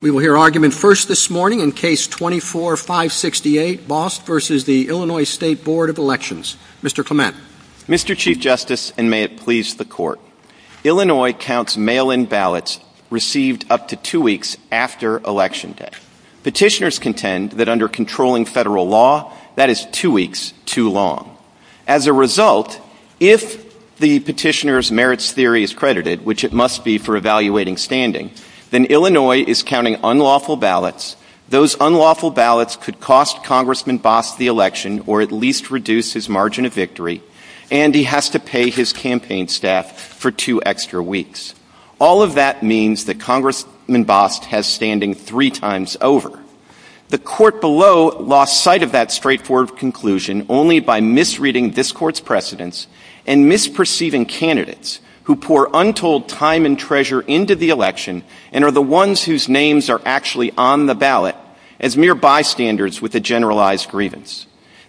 We will hear argument first this morning in Case 24-568, Bost v. the Illinois State Board of Elections. Mr. Clement. Mr. Chief Justice, and may it please the Court, Illinois counts mail-in ballots received up to two weeks after election day. Petitioners contend that under controlling federal law, that is two weeks too long. As a result, if the petitioner's merits theory is credited, which it must be for evaluating standing, then Illinois is counting unlawful ballots, those unlawful ballots could cost Congressman Bost the election or at least reduce his margin of victory, and he has to pay his campaign staff for two extra weeks. All of that means that Congressman Bost has standing three times over. The Court below lost sight of that straightforward conclusion only by misreading this Court's and misperceiving candidates who pour untold time and treasure into the election and are the ones whose names are actually on the ballot as mere bystanders with a generalized grievance.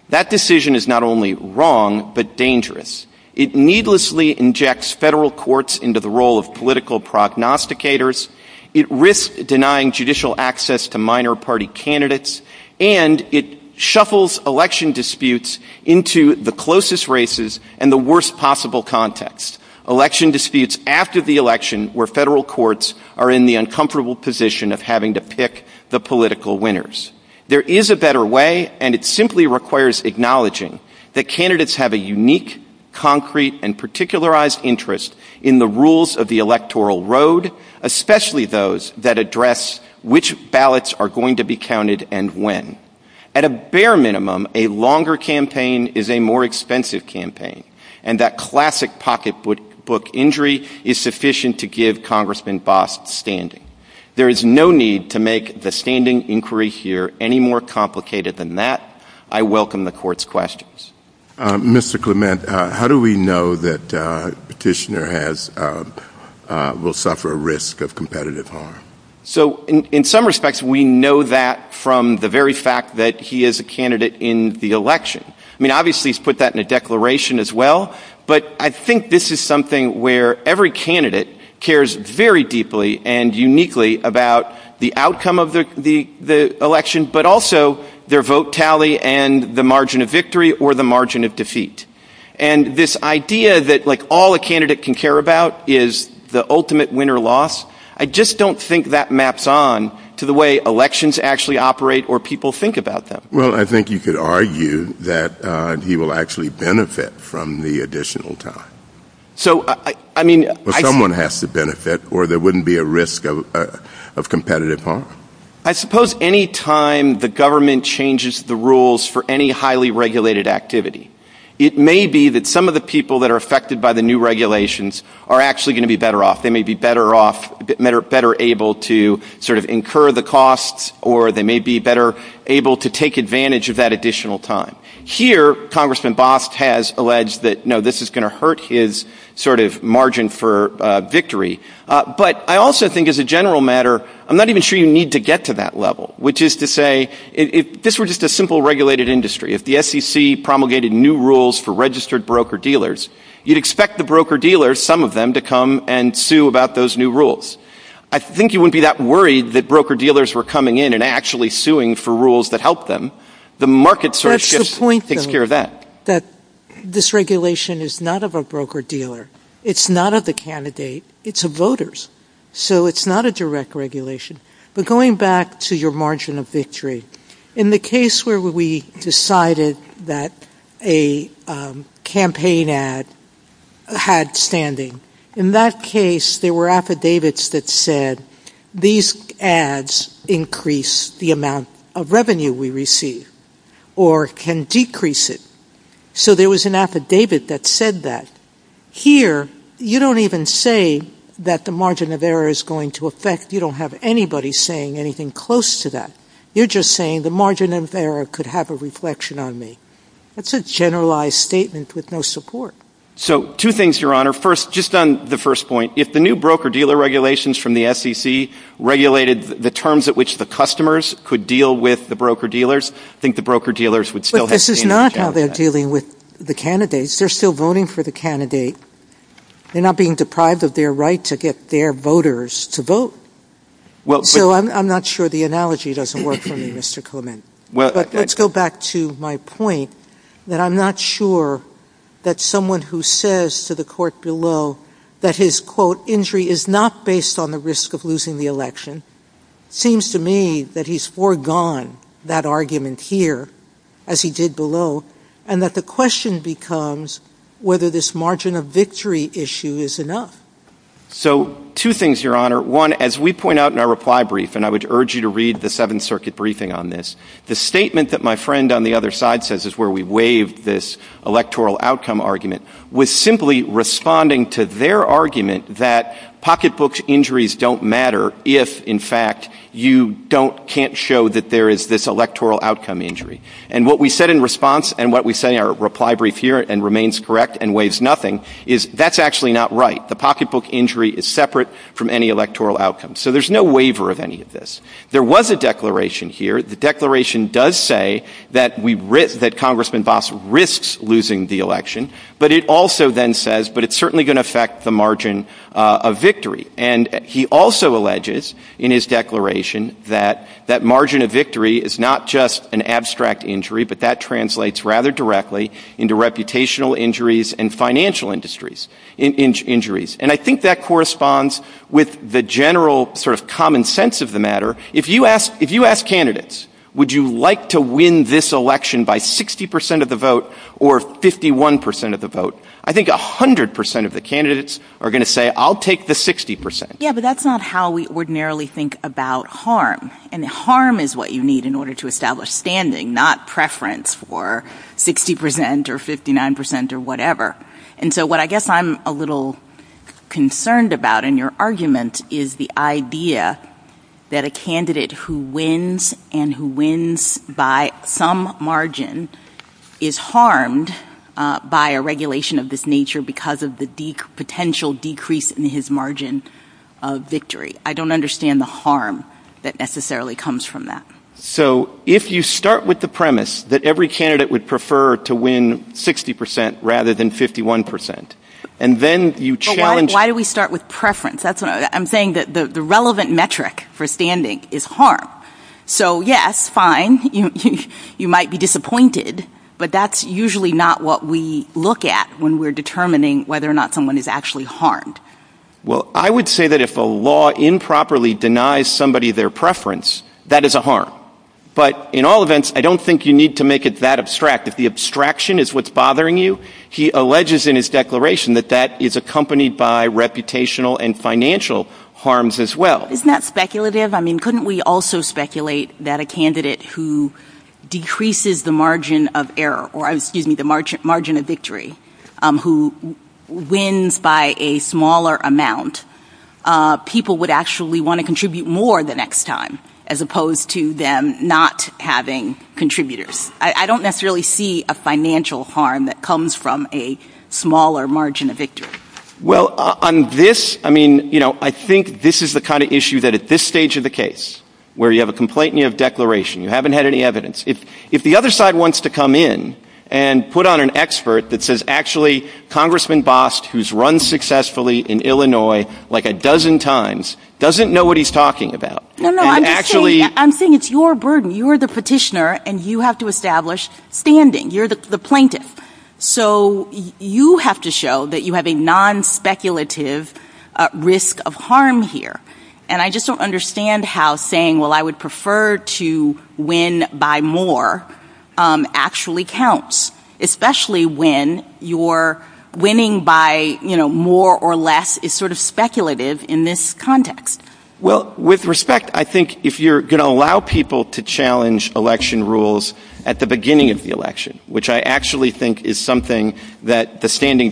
That decision is not only wrong, but dangerous. It needlessly injects federal courts into the role of political prognosticators. It risks denying judicial access to minor party candidates, and it shuffles election disputes into the closest races and the worst possible contexts, election disputes after the election where federal courts are in the uncomfortable position of having to pick the political winners. There is a better way, and it simply requires acknowledging that candidates have a unique, concrete and particularized interest in the rules of the electoral road, especially those that address which ballots are going to be counted and when. At a bare minimum, a longer campaign is a more expensive campaign, and that classic pocketbook injury is sufficient to give Congressman Bost standing. There is no need to make the standing inquiry here any more complicated than that. I welcome the Court's questions. Mr. Clement, how do we know that Kishner will suffer a risk of competitive harm? So in some respects, we know that from the very fact that he is a candidate in the election. I mean, obviously, he's put that in a declaration as well, but I think this is something where every candidate cares very deeply and uniquely about the outcome of the election, but also their vote tally and the margin of victory or the margin of defeat. And this idea that, like, all a candidate can care about is the ultimate win or loss, I just don't think that maps on to the way elections actually operate or people think about them. Well, I think you could argue that he will actually benefit from the additional time. So I mean, someone has to benefit or there wouldn't be a risk of competitive harm. I suppose any time the government changes the rules for any highly regulated activity, it may be that some of the people that are affected by the new regulations are actually going to be better off. They may be better off, better able to sort of incur the costs or they may be better able to take advantage of that additional time. Here, Congressman Bost has alleged that, no, this is going to hurt his sort of margin for victory. But I also think as a general matter, I'm not even sure you need to get to that level, which is to say, if this were just a simple regulated industry, if the SEC promulgated new rules for registered broker-dealers, you'd expect the broker-dealers, some of them, to come and sue about those new rules. I think you wouldn't be that worried that broker-dealers were coming in and actually suing for rules that help them. The market sort of shifts and takes care of that. That's the point, though, that this regulation is not of a broker-dealer. It's not of the candidate. It's of voters. So it's not a direct regulation. But going back to your margin of victory, in the case where we decided that a campaign ad had standing, in that case, there were affidavits that said, these ads increase the amount of revenue we receive or can decrease it. So there was an affidavit that said that. Here, you don't even say that the margin of error is going to affect. You don't have anybody saying anything close to that. You're just saying the margin of error could have a reflection on me. That's a generalized statement with no support. So two things, Your Honor. First, just on the first point, if the new broker-dealer regulations from the SEC regulated the terms at which the customers could deal with the broker-dealers, I think the broker-dealers would still have standing. But this is not how they're dealing with the candidates. They're still voting for the candidate. They're not being deprived of their right to get their voters to vote. So I'm not sure the analogy doesn't work for you, Mr. Clement. But let's go back to my point that I'm not sure that someone who says to the court below that his, quote, injury is not based on the risk of losing the election, seems to me that he's foregone that argument here, as he did below, and that the question becomes whether this margin of victory issue is enough. So two things, Your Honor. One, as we point out in our reply brief, and I would urge you to read the Seventh Circuit briefing on this, the statement that my friend on the other side says is where we waive this electoral outcome argument was simply responding to their argument that pocketbook injuries don't matter if, in fact, you can't show that there is this electoral outcome injury. And what we said in response, and what we say in our reply brief here, and remains correct and waives nothing, is that's actually not right. The pocketbook injury is separate from any electoral outcome. So there's no waiver of any of this. There was a declaration here. The declaration does say that we, that Congressman Boss risks losing the election, but it also then says, but it's certainly going to affect the margin of victory. And he also alleges in his declaration that that margin of victory is not just an abstract injury, but that translates rather directly into reputational injuries and financial injuries. And I think that corresponds with the general sort of common sense of the matter. If you ask candidates, would you like to win this election by 60% of the vote or 51% of the vote? I think 100% of the candidates are going to say, I'll take the 60%. Yeah, but that's not how we ordinarily think about harm. And harm is what you need in order to establish standing, not preference for 60% or 59% or whatever. And so what I guess I'm a little concerned about in your argument is the idea that a candidate who wins and who wins by some margin is harmed by a regulation of this nature because of the potential decrease in his margin of victory. I don't understand the harm that necessarily comes from that. So if you start with the premise that every candidate would prefer to win 60% rather than 51% and then you challenge... Why do we start with preference? That's what I'm saying, that the relevant metric for standing is harm. So yes, fine, you might be disappointed, but that's usually not what we look at when we're determining whether or not someone is actually harmed. Well, I would say that if a law improperly denies somebody their preference, that is a harm. But in all events, I don't think you need to make it that abstract. If the abstraction is what's bothering you, he alleges in his declaration that that is accompanied by reputational and financial harms as well. Isn't that speculative? I mean, couldn't we also speculate that a candidate who decreases the margin of error or, excuse me, the margin of victory, who wins by a smaller amount, people would actually want to contribute more the next time as opposed to them not having contributors? I don't necessarily see a financial harm that comes from a smaller margin of victory. Well, on this, I mean, you know, I think this is the kind of issue that at this stage of the case, where you have a complaint and you have a declaration, you haven't had any evidence. If the other side wants to come in and put on an expert that says, actually, Congressman Bost, who's run successfully in Illinois, like a dozen times, doesn't know what he's talking about, actually, I'm saying it's your burden. You are the petitioner and you have to establish standing. You're the plaintiff. So you have to show that you have a non-speculative risk of harm here. And I just don't understand how saying, well, I would prefer to win by more actually counts, especially when you're winning by, you know, more or less is sort of speculative in this context. Well, with respect, I think if you're going to allow people to challenge election rules at the beginning of the election, which I actually think is something that the standing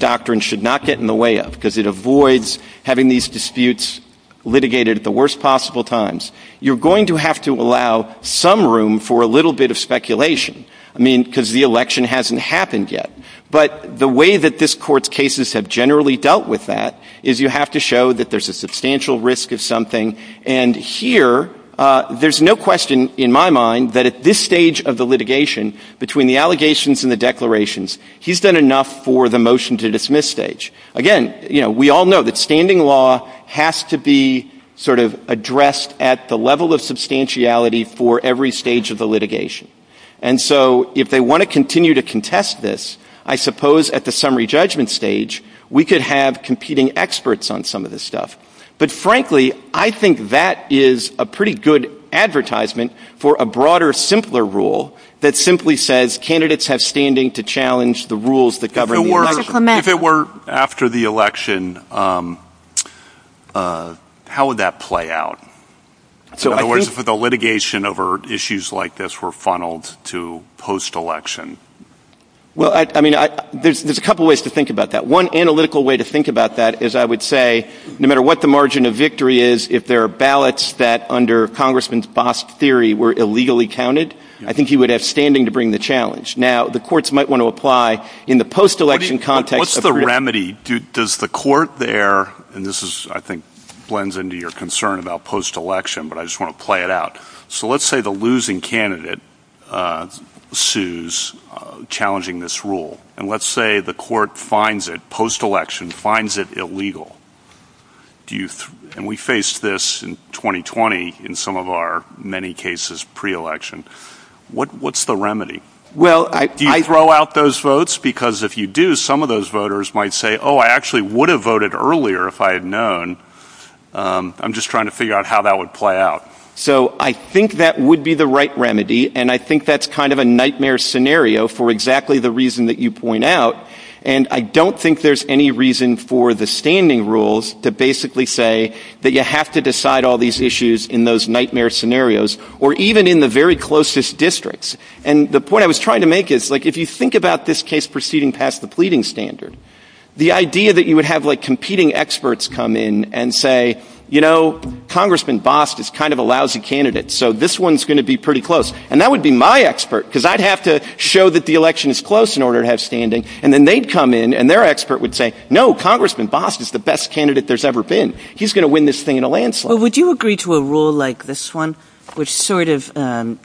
disputes litigated at the worst possible times, you're going to have to allow some room for a little bit of speculation. I mean, because the election hasn't happened yet. But the way that this court's cases have generally dealt with that is you have to show that there's a substantial risk of something. And here there's no question in my mind that at this stage of the litigation, between the allegations and the declarations, he's done enough for the motion to dismiss stage. Again, you know, we all know that standing law has to be sort of addressed at the level of substantiality for every stage of the litigation. And so if they want to continue to contest this, I suppose at the summary judgment stage we could have competing experts on some of this stuff. But frankly, I think that is a pretty good advertisement for a broader, simpler rule that simply says candidates have standing to challenge the rules that govern. If it were after the election, how would that play out? So in other words, if the litigation over issues like this were funneled to post-election? Well, I mean, there's a couple of ways to think about that. One analytical way to think about that is, I would say, no matter what the margin of victory is, if there are ballots that under Congressman Bost's theory were illegally counted, I think he would have standing to bring the challenge. Now, the courts might want to apply in the post-election context. What's the remedy? Does the court there and this is, I think, blends into your concern about post-election, but I just want to play it out. So let's say the losing candidate sues challenging this rule and let's say the court finds it post-election, finds it illegal. And we faced this in 2020 in some of our many cases pre-election. What's the remedy? Well, I throw out those votes because if you do, some of those voters might say, oh, I actually would have voted earlier if I had known. I'm just trying to figure out how that would play out. So I think that would be the right remedy. And I think that's kind of a nightmare scenario for exactly the reason that you point out. And I don't think there's any reason for the standing rules to basically say that you have to decide all these issues in those nightmare scenarios or even in the very closest districts. And the point I was trying to make is, like, if you think about this case proceeding past the pleading standard, the idea that you would have like competing experts come in and say, you know, Congressman Bost is kind of a lousy candidate, so this one's going to be pretty close. And that would be my expert because I'd have to show that the election is close in order to have standing. And then they'd come in and their expert would say, no, Congressman Bost is the best candidate there's ever been. He's going to win this thing in a landslide. Would you agree to a rule like this one, which sort of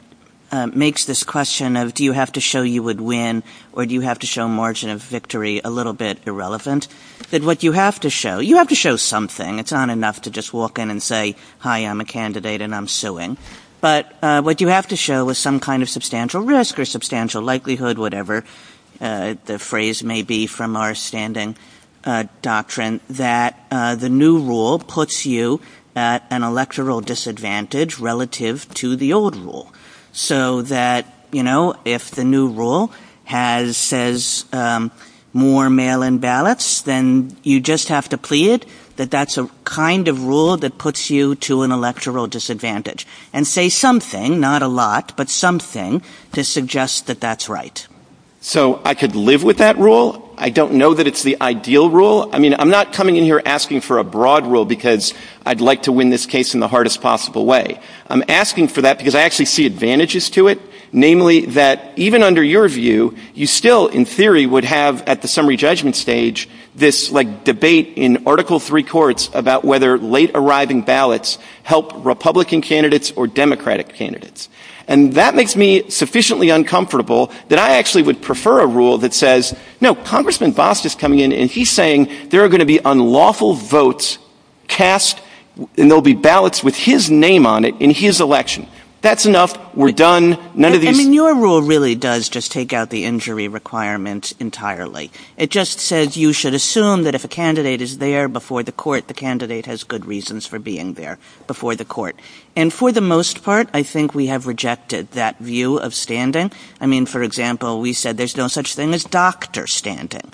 makes this question of do you have to show you would win or do you have to show margin of victory a little bit irrelevant that what you have to show, you have to show something. It's not enough to just walk in and say, hi, I'm a candidate and I'm suing. But what you have to show is some kind of substantial risk or substantial likelihood, whatever the phrase may be from our standing doctrine, that the new rule puts you at an electoral disadvantage relative to the old rule so that, you know, if the new rule has says more mail in ballots, then you just have to plead that that's a kind of rule that puts you to an electoral disadvantage and say something, not a lot, but something to suggest that that's right. So I could live with that rule. I don't know that it's the ideal rule. I mean, I'm not coming in here asking for a broad rule because I'd like to win this case in the hardest possible way. I'm asking for that because I actually see advantages to it, namely that even under your view, you still, in theory, would have at the summary judgment stage this like debate in Article three courts about whether late arriving ballots help Republican candidates or Democratic candidates. And that makes me sufficiently uncomfortable that I actually would prefer a rule that says, no, Congressman Boss is coming in and he's saying there are going to be unlawful votes cast and there'll be ballots with his name on it in his election. That's enough. We're done. None of your rule really does just take out the injury requirements entirely. It just says you should assume that if a candidate is there before the court, the candidate has good reasons for being there before the court. And for the most part, I think we have rejected that view of standing. I mean, for example, we said there's no such thing as doctor standing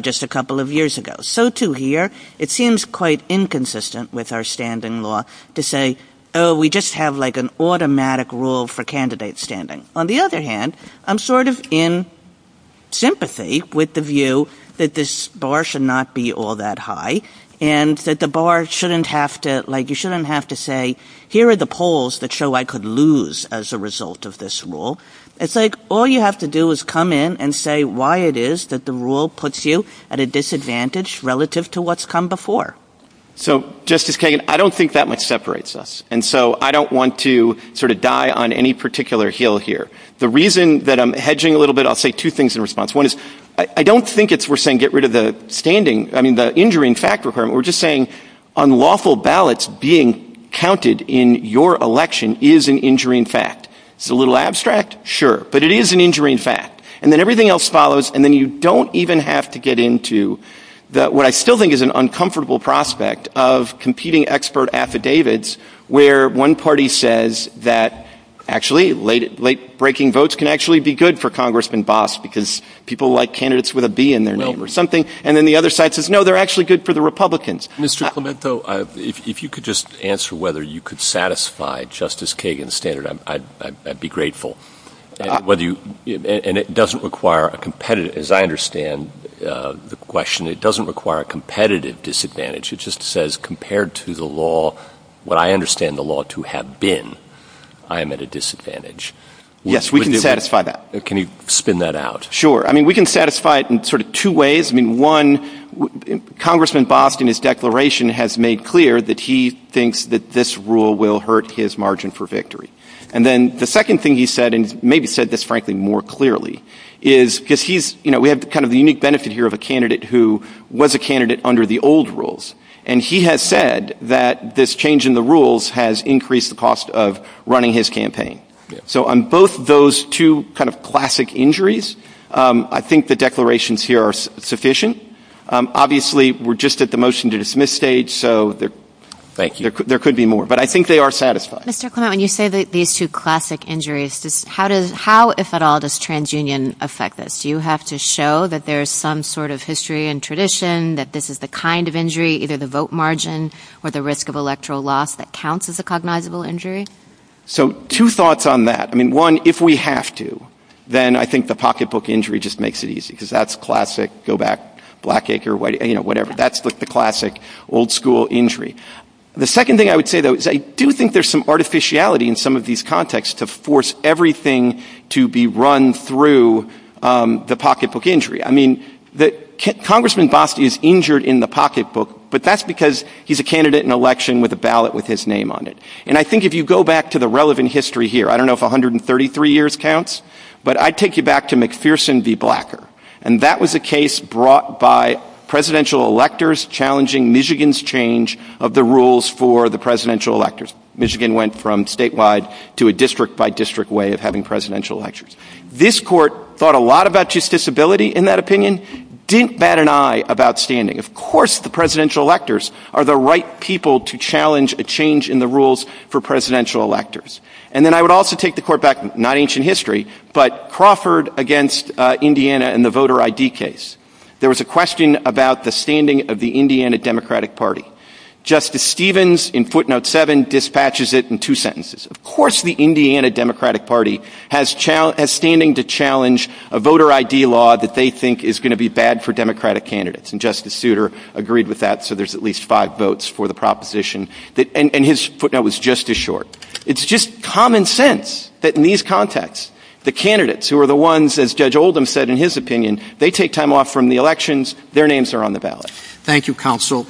just a couple of years ago. So to hear it seems quite inconsistent with our standing law to say, oh, we just have like an automatic rule for candidate standing. On the other hand, I'm sort of in sympathy with the view that this bar should not be all that high and that the bar shouldn't have to like you shouldn't have to say here are the polls that show I could lose as a result of this rule. It's like all you have to do is come in and say why it is that the rule puts you at a disadvantage relative to what's come before. So, Justice Kagan, I don't think that much separates us. And so I don't want to sort of die on any particular hill here. The reason that I'm hedging a little bit, I'll say two things in response. One is I don't think it's we're saying get rid of the standing. I mean, the injury in fact, we're just saying unlawful ballots being counted in your election is an injury in fact. It's a little abstract. Sure. But it is an injury in fact. And then everything else follows. And then you don't even have to get into that. What I still think is an uncomfortable prospect of competing expert affidavits where one party says that actually late late breaking votes can actually be good for Congressman Boss because people like candidates with a B in their name or something. And then the other side says, no, they're actually good for the Republicans. Mr. Clemento, if you could just answer whether you could satisfy Justice Kagan's standard, I'd be grateful whether you and it doesn't require a competitive, as I understand the question, it doesn't require a competitive disadvantage. It just says compared to the law, what I understand the law to have been, I'm at a disadvantage. Yes, we can satisfy that. Can you spin that out? Sure. I mean, we can satisfy it in sort of two ways. I mean, one, Congressman Boston, his declaration has made clear that he thinks that this rule will hurt his margin for victory. And then the second thing he said and maybe said this, frankly, more clearly is because he's you know, we have kind of the unique benefit here of a candidate who was a candidate under the old rules. And he has said that this change in the rules has increased the cost of running his campaign. So on both those two kind of classic injuries, I think the declarations here are sufficient. Obviously, we're just at the motion to dismiss stage, so there could be more, but I think they are satisfied. Mr. Clement, when you say that these two classic injuries, how does how, if at all, does TransUnion affect this? Do you have to show that there's some sort of history and tradition that this is the kind of injury, either the vote margin or the risk of electoral loss that counts as a cognizable injury? So two thoughts on that. I mean, one, if we have to, then I think the pocketbook injury just makes it easy because that's classic. Go back, Blackacre, Whiteacre, you know, whatever. That's the classic old school injury. The second thing I would say, though, is I do think there's some artificiality in some of these contexts to force everything to be run through the pocketbook injury. I mean, that Congressman Bostie is injured in the pocketbook, but that's because he's a candidate in election with a ballot with his name on it. And I think if you go back to the relevant history here, I don't know if 133 years counts, but I take you back to McPherson v. Blackacre. And that was a case brought by presidential electors challenging Michigan's change of the rules for the presidential electors. Michigan went from statewide to a district by district way of having presidential electors. This court thought a lot about justiciability in that opinion, didn't bat an eye about standing. Of course, the presidential electors are the right people to challenge a change in the rules for presidential electors. And then I would also take the court back, not ancient history, but Crawford against Indiana and the voter ID case. There was a question about the standing of the Indiana Democratic Party. Justice Stevens in footnote seven dispatches it in two sentences. Of course, the Indiana Democratic Party has standing to challenge a voter ID law that they think is going to be bad for Democratic candidates. And Justice Souter agreed with that. So there's at least five votes for the proposition that and his footnote was just as short. It's just common sense that in these contexts, the candidates who are the ones, as Judge Oldham said, in his opinion, they take time off from the elections. Their names are on the ballot. Thank you, counsel.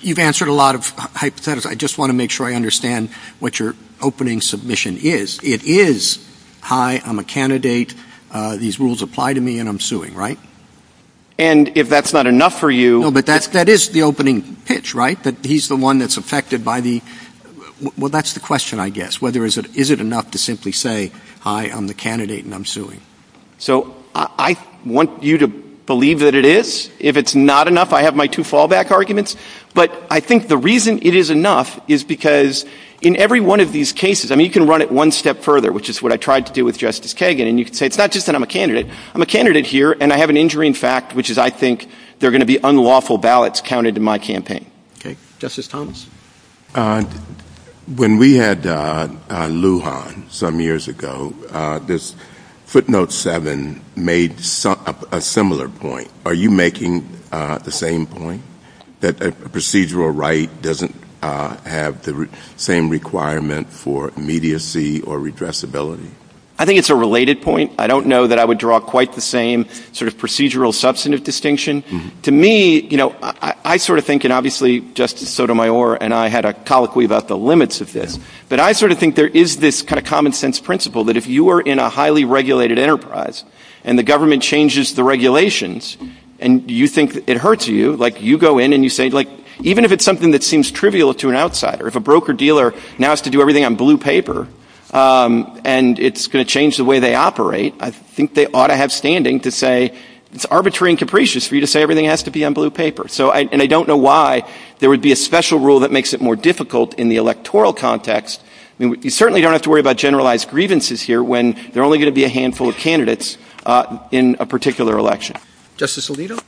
You've answered a lot of hypothesis. I just want to make sure I understand what your opening submission is. It is high. I'm a candidate. These rules apply to me and I'm suing. Right. And if that's not enough for you, but that is the opening pitch, right, that he's the one that's affected by the well, that's the question, I guess, whether is it is it enough to simply say, I am the candidate and I'm suing. So I want you to believe that it is. If it's not enough, I have my two fallback arguments. But I think the reason it is enough is because in every one of these cases, I mean, you can run it one step further, which is what I tried to do with Justice Kagan. And you can say it's not just that I'm a candidate, I'm a candidate here and I have an injuring fact, which is I think they're going to be unlawful ballots counted in my campaign. OK, Justice Thomas, when we had Lujan some years ago, this footnote seven made a similar point. Are you making the same point that procedural right doesn't have the same requirement for immediacy or addressability? I think it's a related point. I don't know that I would draw quite the same sort of procedural substantive distinction to me. I sort of think and obviously Justice Sotomayor and I had a colloquy about the limits of this, but I sort of think there is this kind of common sense principle that if you are in a highly regulated enterprise and the government changes the regulations and you think it hurts you, like you go in and you say like even if it's something that seems trivial to an outsider, if a broker dealer now has to do everything on blue paper and it's going to change the way they operate, I think they ought to have standing to say it's arbitrary and capricious for you to say everything has to be on blue paper. So and I don't know why there would be a special rule that makes it more difficult in the electoral context. I mean, you certainly don't have to worry about generalized grievances here when there are only going to be a handful of candidates in a particular election. Justice Alito,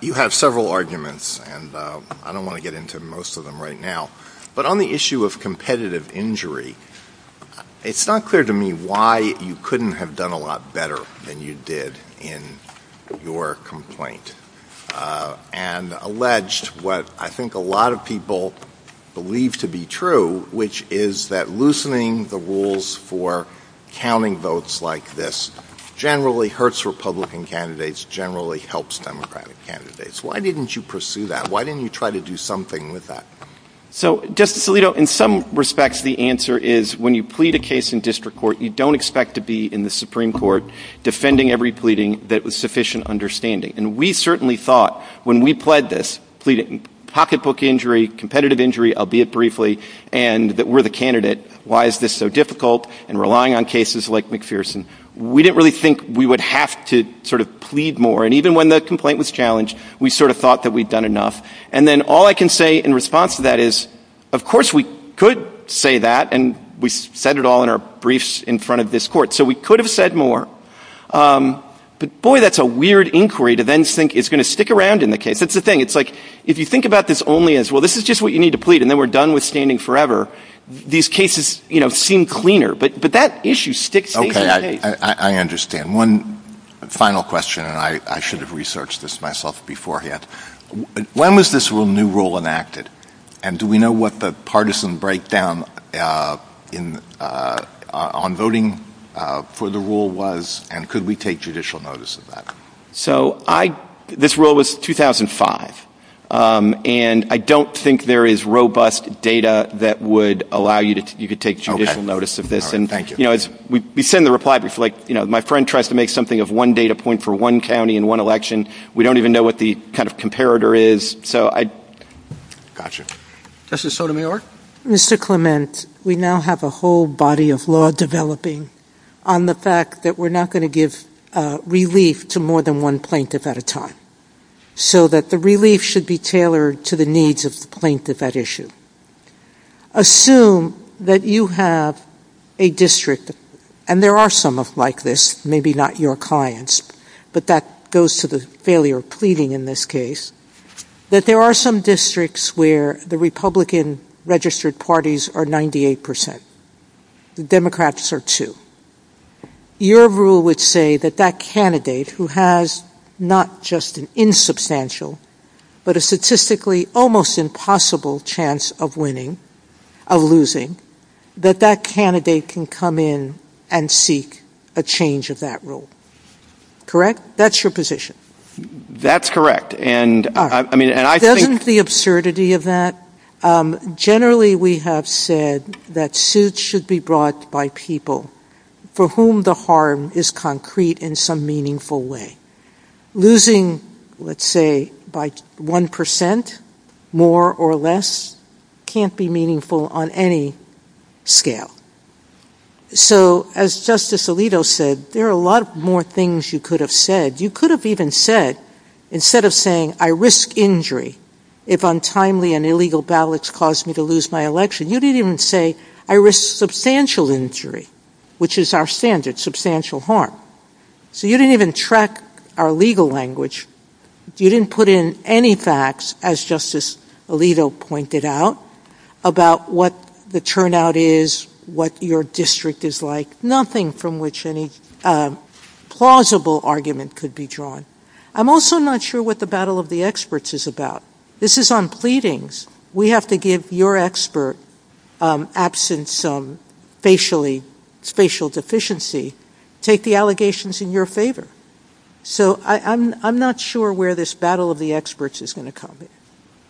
you have several arguments and I don't want to get into most of them right now, but on the issue of competitive injury, it's not clear to me why you couldn't have done a lot better than you did in your complaint and alleged what I think a lot of people believe to be true, which is that loosening the rules for counting votes like this generally hurts Republican candidates, generally helps Democratic candidates. Why didn't you pursue that? Why didn't you try to do something with that? So Justice Alito, in some respects, the answer is when you plead a case in district court, you don't expect to be in the Supreme Court defending every pleading that was sufficient understanding. And we certainly thought when we pled this, pleading pocketbook injury, competitive injury, albeit briefly, and that we're the candidate, why is this so difficult? And relying on cases like McPherson, we didn't really think we would have to sort of plead more. And even when the complaint was challenged, we sort of thought that we'd done enough. And then all I can say in response to that is, of course, we could say that and we've said it all in our briefs in front of this court. So we could have said more. But boy, that's a weird inquiry to then think it's going to stick around in the case. It's a thing. It's like if you think about this only as well, this is just what you need to plead. And then we're done with standing forever. These cases seem cleaner. But that issue sticks. OK, I understand. One final question. And I should have researched this myself beforehand. When was this new rule enacted and do we know what the partisan breakdown in on voting for the rule was? And could we take judicial notice of that? So I this rule was 2005 and I don't think there is robust data that would allow you to you could take judicial notice of this. And thank you. You know, we send the reply. It's like, you know, my friend tries to make something of one data point for one county in one election. We don't even know what the kind of comparator is. So I got you. This is Sotomayor. Mr. Clement, we now have a whole body of law developing on the fact that we're not going to give relief to more than one plaintiff at a time so that the relief should be tailored to the needs of the plaintiff at issue. Assume that you have a district and there are some of like this, maybe not your clients, but that goes to the failure of pleading in this case, that there are some districts where the Republican registered parties are 98 percent, the Democrats are two. Your rule would say that that candidate who has not just an insubstantial, but a statistically almost impossible chance of winning, of losing, that that candidate can come in and seek a change of that rule. Correct. That's your position. That's correct. And I mean, I think the absurdity of that. Generally, we have said that suits should be brought by people for whom the harm is concrete in some meaningful way. Losing, let's say, by one percent more or less can't be meaningful on any scale. So as Justice Alito said, there are a lot more things you could have said, you could have even said, instead of saying I risk injury if untimely and illegal ballots caused me to lose my election, you didn't even say I risk substantial injury, which is our standard, substantial harm. So you didn't even track our legal language. You didn't put in any facts, as Justice Alito pointed out, about what the turnout is, what your district is like, nothing from which any plausible argument could be drawn. I'm also not sure what the battle of the experts is about. This is on pleadings. We have to give your expert, absent some spatial deficiency, take the allegations in your favor. So I'm not sure where this battle of the experts is going to come.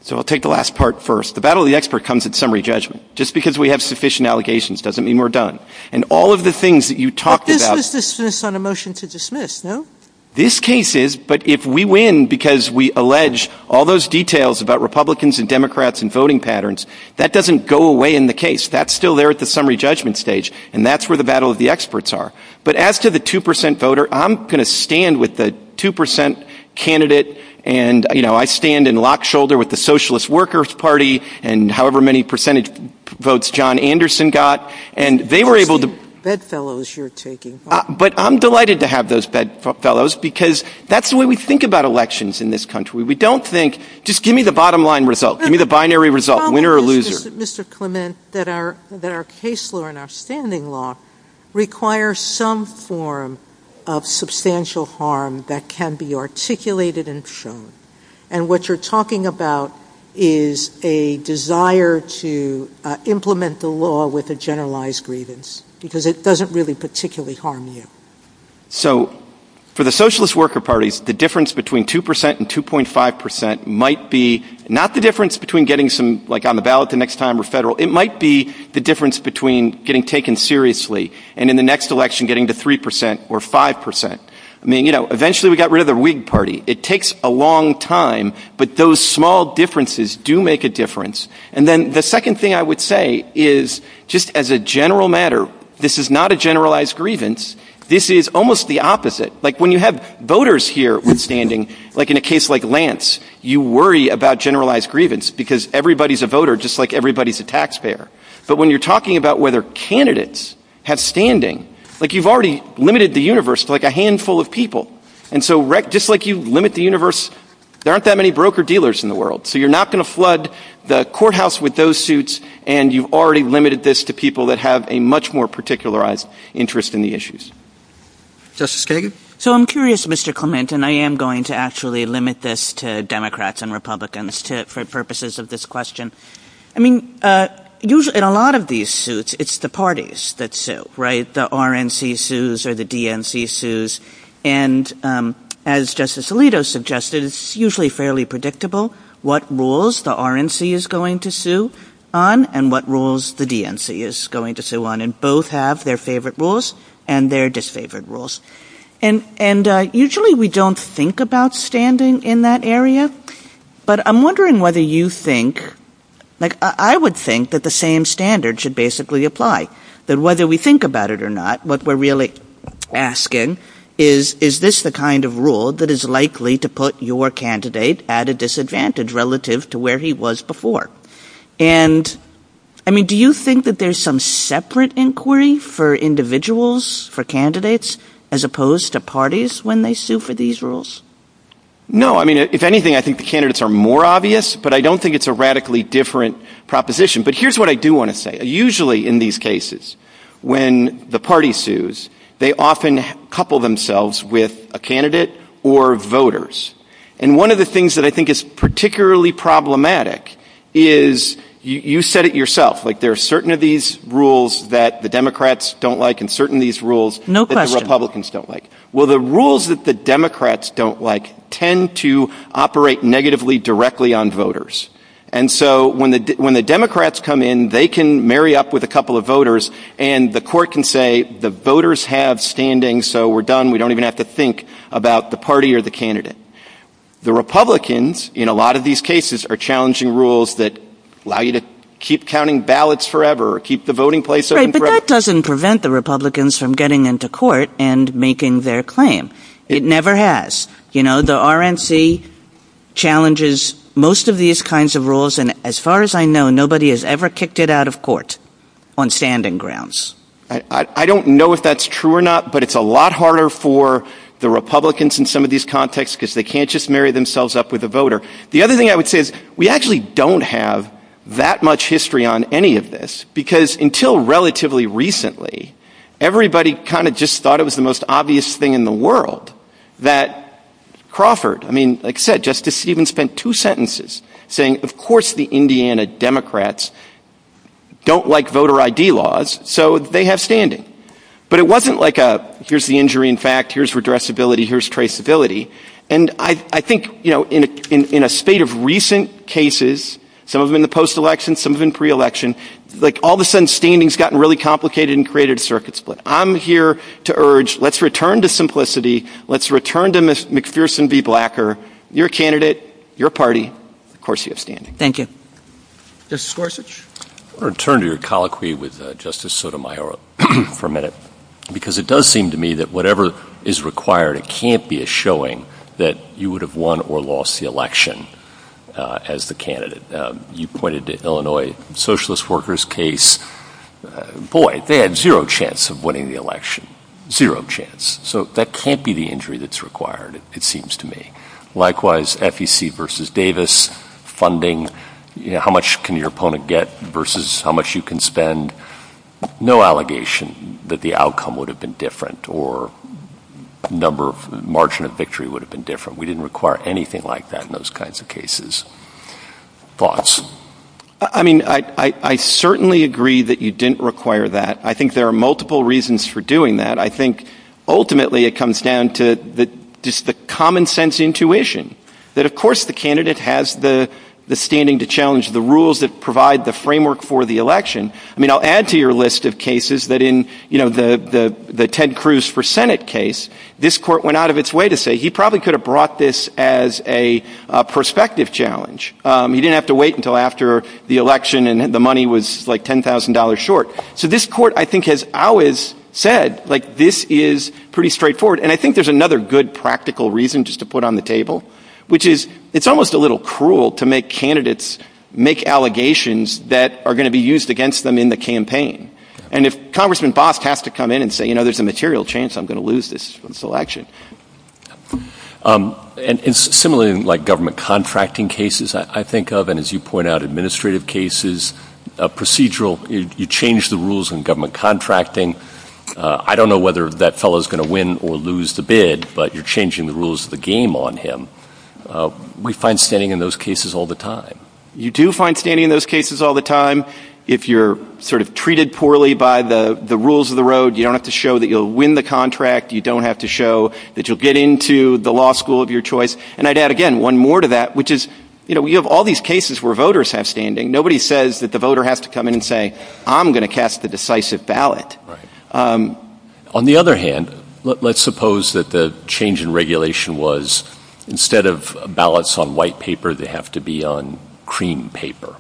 So I'll take the last part first. The battle of the expert comes in summary judgment. Just because we have sufficient allegations doesn't mean we're done. And all of the things that you talked about on a motion to dismiss. No, this case is. But if we win because we allege all those details about Republicans and Democrats and voting patterns, that doesn't go away in the case that's still there at the summary judgment stage. And that's where the battle of the experts are. But as to the two percent voter, I'm going to stand with the two percent candidate. And, you know, I stand in lock shoulder with the Socialist Workers Party and however many percentage votes John Anderson got. And they were able to bedfellows you're taking. But I'm delighted to have those bedfellows because that's the way we think about elections in this country. We don't think just give me the bottom line result. Give me the binary result. Winner or loser. Mr. Clement, that our that our case law and our standing law require some form of substantial harm that can be articulated and shown. And what you're talking about is a desire to implement the law with a generalized grievance because it doesn't really particularly harm you. So for the Socialist Worker Party, the difference between two percent and two point five percent might be not the difference between getting some like on the ballot the next time or federal. It might be the difference between getting taken seriously and the next election getting to three percent or five percent. I mean, you know, eventually we got rid of the Whig Party. It takes a long time. But those small differences do make a difference. And then the second thing I would say is just as a general matter, this is not a generalized grievance. This is almost the opposite. Like when you have voters here standing like in a case like Lance, you worry about generalized grievance because everybody's a voter just like everybody's a taxpayer. But when you're talking about whether candidates have standing like you've already limited the universe like a handful of people. And so just like you limit the universe, there aren't that many broker dealers in the world. So you're not going to flood the courthouse with those suits. And you've already limited this to people that have a much more particular interest in the issues. Justice Kagan. So I'm curious, Mr. Clement, and I am going to actually limit this to Democrats and Republicans for purposes of this question. I mean, usually in a lot of these suits, it's the parties that say, right, the RNC sues or the DNC sues. And as Justice Alito suggested, it's usually fairly predictable what rules the RNC is going to sue on and what rules the DNC is going to sue on. And both have their favorite rules and their disfavored rules. And and usually we don't think about standing in that area. But I'm wondering whether you think like I would think that the same standard should basically apply that whether we think about it or not, what we're really asking is, is this the kind of rule that is likely to put your candidate at a disadvantage relative to where he was before? And I mean, do you think that there's some separate inquiry for individuals, for candidates as opposed to parties when they sue for these rules? No, I mean, if anything, I think the candidates are more obvious, but I don't think it's a radically different proposition. But here's what I do want to say. Usually in these cases, when the party sues, they often couple themselves with a candidate or voters. And one of the things that I think is particularly problematic is you said it yourself, like there are certain of these rules that the Democrats don't like and certain these rules. No, the Republicans don't like. Well, the rules that the Democrats don't like tend to operate negatively directly on voters. And so when the when the Democrats come in, they can marry up with a couple of voters and the court can say the voters have standing. So we're done. We don't even have to think about the party or the candidate. The Republicans in a lot of these cases are challenging rules that allow you to keep counting ballots forever, keep the voting place. But that doesn't prevent the Republicans from getting into court and making their claim. It never has. You know, the RNC challenges most of these kinds of rules. And as far as I know, nobody has ever kicked it out of court on standing grounds. I don't know if that's true or not, but it's a lot harder for the Republicans in some of these contexts because they can't just marry themselves up with a voter. The other thing I would say is we actually don't have that much history on any of this because until relatively recently, everybody kind of just thought it was the most obvious thing in the world that Crawford. I mean, like I said, Justice even spent two sentences saying, of course, the Indiana Democrats don't like voter ID laws, so they have standing. But it wasn't like a here's the injury. In fact, here's redress ability. Here's traceability. And I think, you know, in a state of recent cases, some of them in the post-election, some of them pre-election, like all of a sudden standing's gotten really complicated and created a circuit split. I'm here to urge let's return to simplicity. Let's return to McPherson v. Blacker, your candidate, your party. Of course, you have standing. Thank you. Justice Gorsuch, I want to return to your colloquy with Justice Sotomayor for a minute, because it does seem to me that whatever is required, it can't be a showing that you would have won or lost the election as the candidate. You pointed to Illinois socialist workers case. Boy, they had zero chance of winning the election. Zero chance. So that can't be the injury that's required, it seems to me. Likewise, FEC versus Davis funding. How much can your opponent get versus how much you can spend? No allegation that the outcome would have been different or a number of margin of victory would have been different. We didn't require anything like that in those kinds of cases. Thoughts? I mean, I certainly agree that you didn't require that. I think there are multiple reasons for doing that. I think ultimately it comes down to the common sense intuition that, of course, the candidate has the standing to challenge the rules that provide the framework for the election. I mean, I'll add to your list of cases. But in the Ted Cruz for Senate case, this court went out of its way to say he probably could have brought this as a prospective challenge. You didn't have to wait until after the election and the money was like ten thousand dollars short. So this court, I think, has always said like this is pretty straightforward. And I think there's another good practical reason just to put on the table, which is it's almost a little cruel to make candidates make allegations that are going to be used against them in the campaign. And if Congressman Bost has to come in and say, you know, there's a material chance I'm going to lose this election. And similarly, like government contracting cases, I think of, and as you point out, administrative cases, procedural, you change the rules in government contracting. I don't know whether that fellow is going to win or lose the bid, but you're changing the rules of the game on him. We find standing in those cases all the time. You do find standing in those cases all the time. If you're sort of treated poorly by the rules of the road, you don't have to show that you'll win the contract. You don't have to show that you'll get into the law school of your choice. And I'd add, again, one more to that, which is, you know, we have all these cases where voters have standing. Nobody says that the voter has to come in and say, I'm going to cast a decisive ballot. On the other hand, let's suppose that the change in regulation was instead of ballots on white paper, they have to be on cream paper.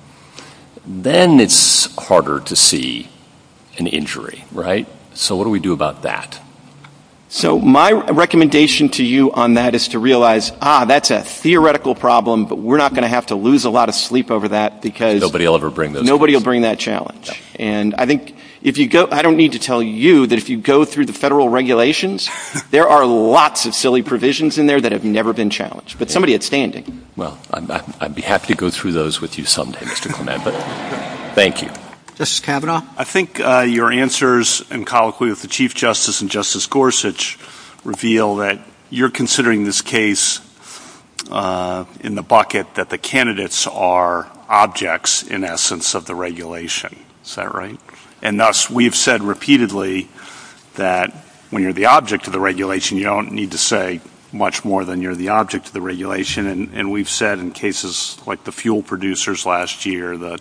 Then it's harder to see an injury. Right. So what do we do about that? So my recommendation to you on that is to realize, ah, that's a theoretical problem, but we're not going to have to lose a lot of sleep over that because nobody will ever bring this. Nobody will bring that challenge. And I think if you go, I don't need to tell you that if you go through the federal regulations, there are lots of silly provisions in there that have never been challenged. But somebody at standing. Well, I'd be happy to go through those with you some day, Mr. Clement, but thank you. This cabinet, I think your answers and colloquy with the chief justice and Justice Gorsuch reveal that you're considering this case in the bucket, that the candidates are objects in essence of the regulation. Is that right? And thus, we've said repeatedly that when you're the object of the regulation, you don't need to say much more than you're the object of the regulation. And we've said in cases like the fuel producers last year that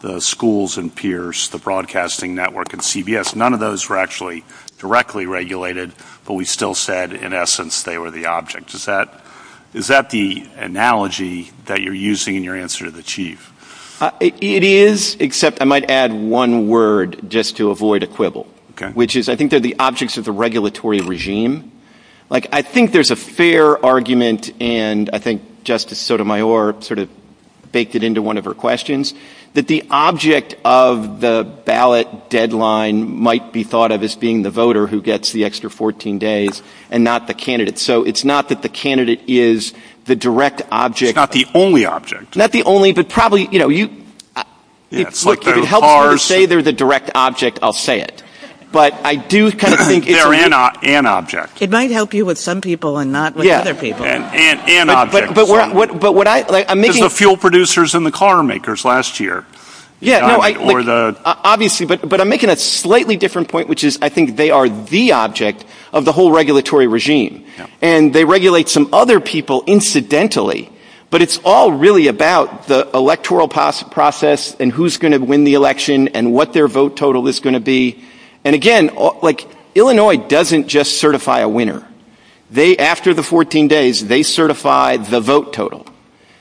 the schools and peers, the broadcasting network and CBS, none of those were actually directly regulated. But we still said, in essence, they were the object. Is that is that the analogy that you're using in your answer to the chief? It is, except I might add one word just to avoid a quibble, which is I think they're the objects of the regulatory regime. Like, I think there's a fair argument, and I think Justice Sotomayor sort of baked it into one of her questions that the object of the ballot deadline might be thought of as being the voter who gets the extra 14 days and not the candidate. So it's not that the candidate is the direct object, not the only object, not the only. But probably, you know, you look at it and say they're the direct object. I'll say it. But I do kind of think they're an object. It might help you with some people and not with other people. Yeah, but what I'm making is the fuel producers and the car makers last year. Yeah, obviously. But I'm making a slightly different point, which is I think they are the object of the whole regulatory regime and they regulate some other people incidentally. But it's all really about the electoral process and who's going to win the election and what their vote total is going to be. And again, like Illinois doesn't just certify a winner. They after the 14 days, they certify the vote total.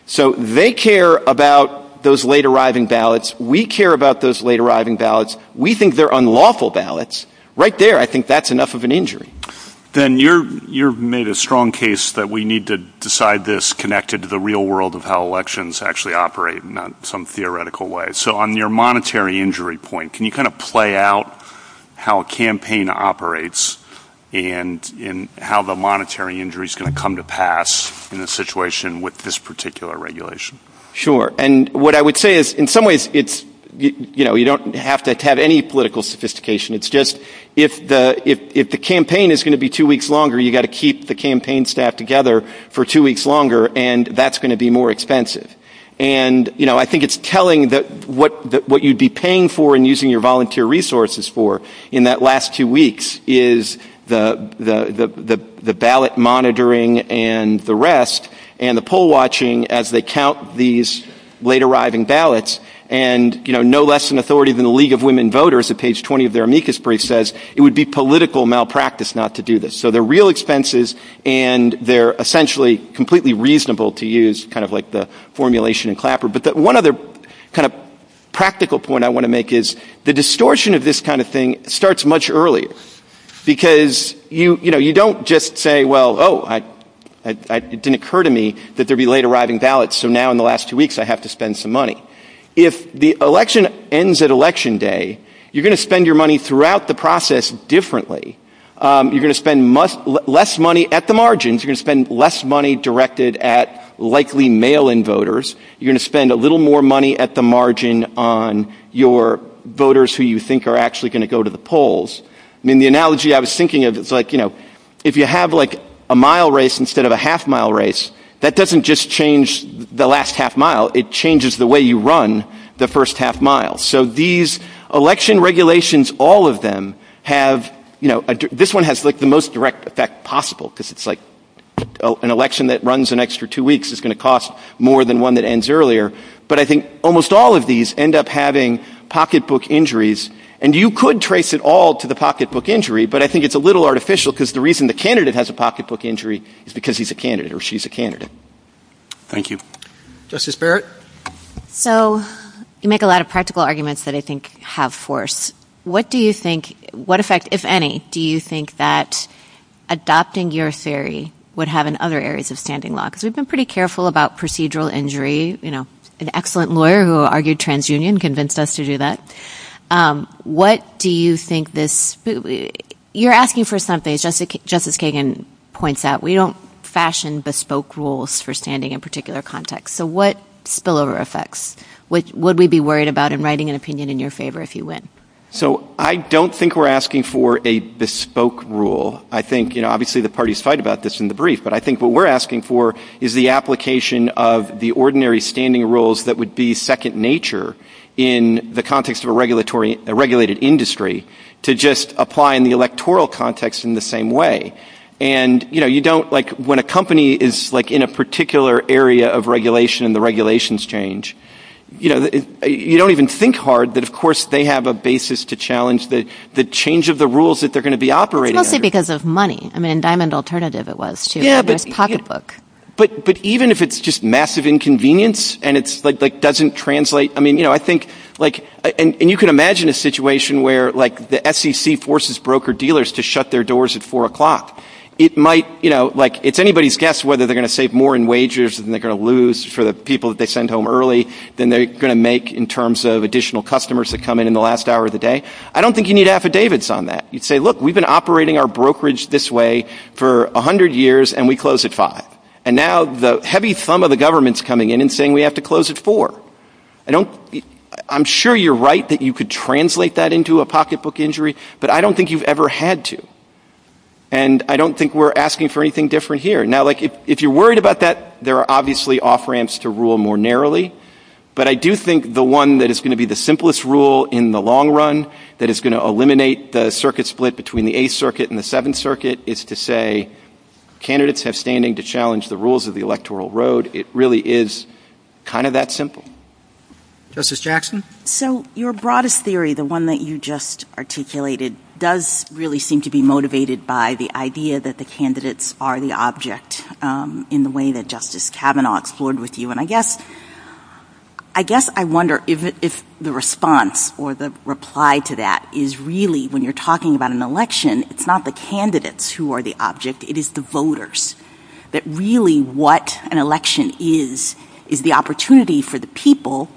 So they care about those late arriving ballots. We care about those late arriving ballots. We think they're unlawful ballots right there. I think that's enough of an injury. Then you're you've made a strong case that we need to decide this connected to the real world of how elections actually operate in some theoretical way. So on your monetary injury point, can you kind of play out how a campaign operates and in how the monetary injury is going to come to pass in a situation with this particular regulation? Sure. And what I would say is in some ways, it's you know, you don't have to have any political sophistication. It's just if the if if the campaign is going to be two weeks longer, you got to keep the campaign staff together for two weeks longer and that's going to be more expensive. And, you know, I think it's telling that what that what you'd be paying for and using your volunteer resources for in that last two weeks is the the the the ballot monitoring and the rest and the poll watching as they count these late arriving ballots. And, you know, no less an authority than the League of Women Voters at page 20 of their amicus brief says it would be political malpractice not to do this. So they're real expenses and they're essentially completely reasonable to use kind of like the formulation and clapper. But one other kind of practical point I want to make is the distortion of this kind of thing starts much earlier because, you know, you don't just say, well, oh, I didn't occur to me that there'd be late arriving ballots. So now in the last two weeks, I have to spend some money. If the election ends at Election Day, you're going to spend your money throughout the process differently. You're going to spend less money at the margins. You can spend less money directed at likely mail in voters. You're going to spend a little more money at the margin on your voters who you think are actually going to go to the polls. And the analogy I was thinking of, it's like, you know, if you have like a mile race instead of a half mile race, that doesn't just change the last half mile. It changes the way you run the first half mile. So these election regulations, all of them have, you know, this one has the most direct effect possible because it's like an election that runs an extra two weeks is going to cost more than one that ends earlier. But I think almost all of these end up having pocketbook injuries. And you could trace it all to the pocketbook injury. But I think it's a little artificial because the reason the candidate has a pocketbook injury is because he's a candidate or she's a candidate. Thank you, Justice Barrett. So you make a lot of practical arguments that I think have force. What do you think, what effect, if any, do you think that adopting your theory would have in other areas of standing law? Because we've been pretty careful about procedural injury. You know, an excellent lawyer who argued transunion convinced us to do that. What do you think this, you're asking for something Justice Kagan points out. We don't fashion bespoke rules for standing in particular context. So what spillover effects would we be worried about in writing an opinion in your favor if you win? So I don't think we're asking for a bespoke rule. I think, you know, obviously the parties fight about this in the brief. But I think what we're asking for is the application of the ordinary standing rules that would be second nature in the context of a regulatory, a regulated industry to just apply in the electoral context in the same way. And, you know, you don't like when a company is like in a particular area of regulation and the regulations change, you know, you don't even think hard that, of course, they have a basis to challenge the change of the rules that they're going to be operating mostly because of money. I mean, Diamond Alternative, it was a topic book. But even if it's just massive inconvenience and it's like doesn't translate, I mean, you know, I think like and you can imagine a situation where like the SEC forces broker dealers to shut their doors at four o'clock. It might, you know, like it's anybody's guess whether they're going to save more in wagers and they're going to lose for the people that they send home early than they're going to make in terms of additional customers that come in in the last hour of the day. I don't think you need affidavits on that. You'd say, look, we've been operating our brokerage this way for 100 years and we close at five. And now the heavy thumb of the government's coming in and saying we have to close at four. I don't I'm sure you're right that you could translate that into a pocketbook injury, but I don't think you've ever had to. And I don't think we're asking for anything different here. Now, like if you're worried about that, there are obviously off ramps to rule more narrowly. But I do think the one that is going to be the simplest rule in the long run that is going to eliminate the circuit split between the Eighth Circuit and the Seventh Circuit is to say candidates have standing to challenge the rules of the electoral road. It really is kind of that simple. Justice Jackson, so your broadest theory, the one that you just articulated, does really seem to be motivated by the idea that the candidates are the object in the way that Justice Kavanaugh explored with you. And I guess I guess I wonder if the response or the reply to that is really when you're talking about an election, it's not the candidates who are the object. It is the voters that really what an election is, is the opportunity for the people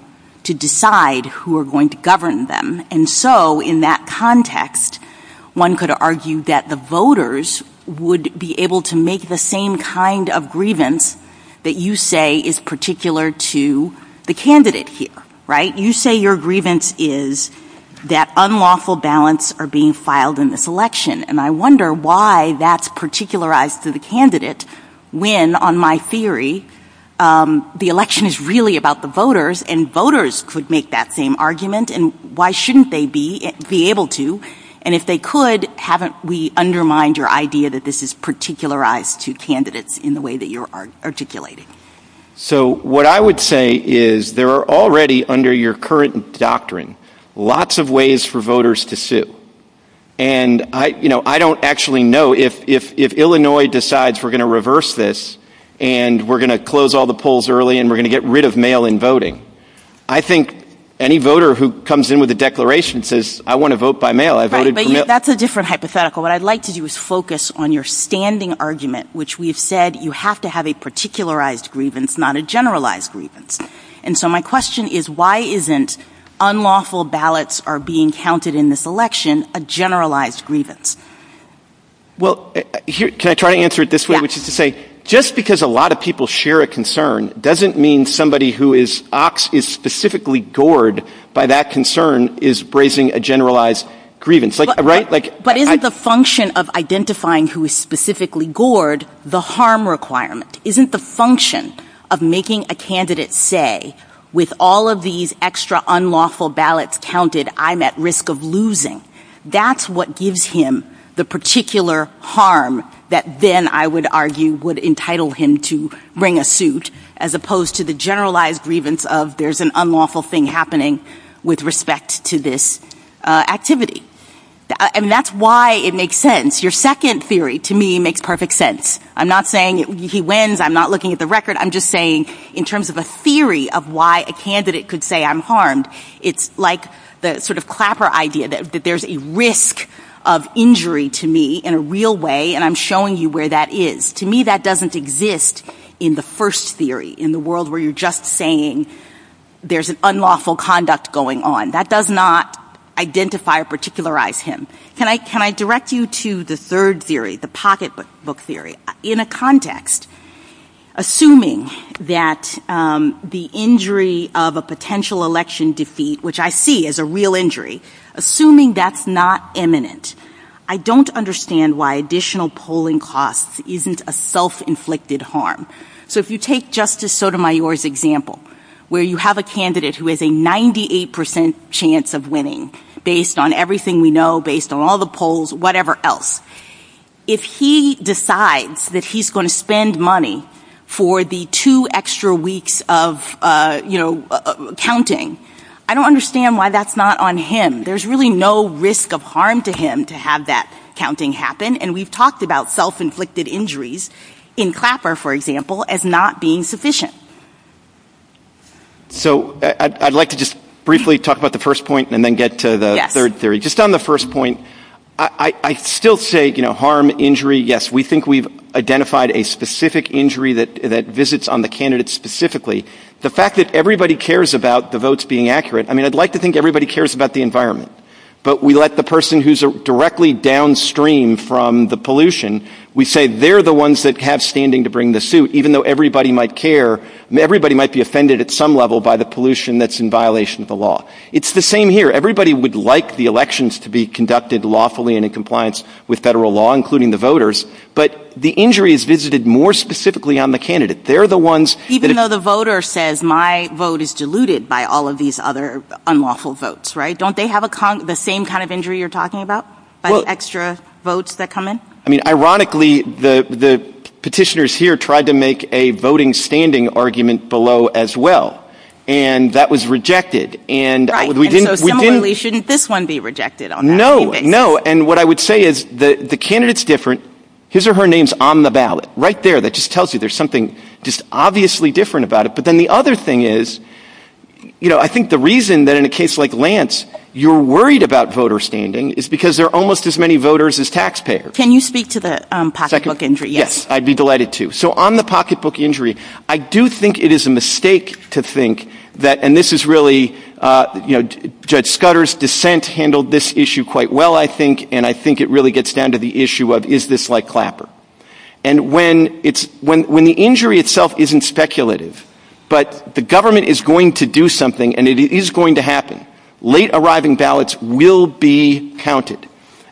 to decide who are going to govern them. And so in that context, one could argue that the voters would be able to make the same kind of grievance that you say is particular to the candidate here. Right. You say your grievance is that unlawful balance are being filed in this election. And I wonder why that's particularized to the candidate when, on my theory, the election is really about the voters and voters could make that same argument. And why shouldn't they be able to? And if they could, haven't we undermined your idea that this is particularized to candidates in the way that you are articulating? So what I would say is there are already under your current doctrine, lots of ways for voters to sit. And I don't actually know if Illinois decides we're going to reverse this and we're going to close all the polls early and we're going to get rid of mail in voting. I think any voter who comes in with a declaration says, I want to vote by mail. I voted. That's a different hypothetical. What I'd like to do is focus on your standing argument, which we've said you have to have a particularized grievance, not a generalized grievance. And so my question is, why isn't unlawful ballots are being counted in this election, a generalized grievance? Well, can I try to answer it this way, which is to say, just because a lot of people share a concern doesn't mean somebody who is specifically gored by that concern is raising a generalized grievance, right? But isn't the function of identifying who is specifically gored the harm requirement? Isn't the function of making a candidate say, with all of these extra unlawful ballots counted, I'm at risk of losing. That's what gives him the particular harm that then, I would argue, would entitle him to bring a suit as opposed to the generalized grievance of there's an unlawful thing happening with respect to this activity. And that's why it makes sense. Your second theory, to me, makes perfect sense. I'm not saying he wins. I'm not looking at the record. I'm just saying in terms of a theory of why a candidate could say I'm harmed, it's like the sort of clapper idea that there's a risk of injury to me in a real way. And I'm showing you where that is. To me, that doesn't exist in the first theory, in the world where you're just saying there's an unlawful conduct going on. That does not identify or particularize him. Can I can I direct you to the third theory, the pocketbook theory? In a context, assuming that the injury of a potential election defeat, which I see as a real injury, assuming that's not imminent, I don't understand why additional polling costs isn't a self-inflicted harm. So if you take Justice Sotomayor's example, where you have a candidate who has a 98 percent chance of winning based on everything we know, based on all the polls, whatever else, if he decides that he's going to spend money for the two extra weeks of, you know, counting, I don't understand why that's not on him. There's really no risk of harm to him to have that counting happen. And we've talked about self-inflicted injuries in Clapper, for example, as not being sufficient. So I'd like to just briefly talk about the first point and then get to the third theory. Just on the first point, I still say, you know, harm, injury. Yes, we think we've identified a specific injury that that visits on the candidates specifically. The fact that everybody cares about the votes being accurate. I mean, I'd like to think everybody cares about the environment, but we let the person who's directly downstream from the pollution. We say they're the ones that have standing to bring the suit, even though everybody might care and everybody might be offended at some level by the pollution that's in violation of the law. It's the same here. Everybody would like the elections to be conducted lawfully and in compliance with federal law, including the voters. But the injury is visited more specifically on the candidate. They're the ones that even though the voter says my vote is diluted by all of these other unlawful votes. Right. Don't they have the same kind of injury you're talking about by extra votes that come in? I mean, ironically, the petitioners here tried to make a voting standing argument below as well, and that was rejected. And we didn't really shouldn't this one be rejected. No, no. And what I would say is that the candidates different his or her names on the ballot right there. That just tells you there's something just obviously different about it. But then the other thing is, you know, I think the reason that in a case like Lance, you're worried about voter standing is because there are almost as many voters as taxpayers. Can you speak to the pocketbook injury? Yes, I'd be delighted to. So on the pocketbook injury, I do think it is a mistake to think that and this is really, you know, Judge Scudder's dissent handled this issue quite well, I think. And I think it really gets down to the issue of is this like Clapper? And when it's when when the injury itself isn't speculative, but the government is going to do something and it is going to happen, late arriving ballots will be counted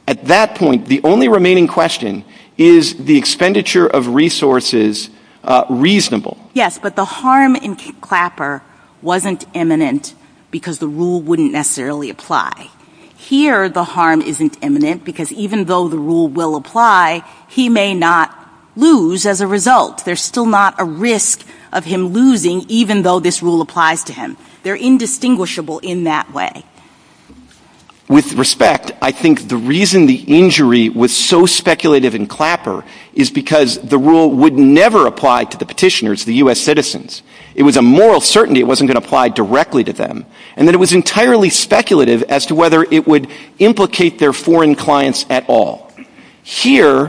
at that point. The only remaining question is the expenditure of resources reasonable. Yes, but the harm in Clapper wasn't imminent because the rule wouldn't necessarily apply here. The harm isn't imminent because even though the rule will apply, he may not lose as a result. There's still not a risk of him losing, even though this rule applies to him. They're indistinguishable in that way. With respect, I think the reason the injury was so speculative in Clapper is because the rule would never apply to the petitioners, the U.S. citizens. It was a moral certainty. It wasn't going to apply directly to them. And then it was entirely speculative as to whether it would implicate their foreign clients at all. Here,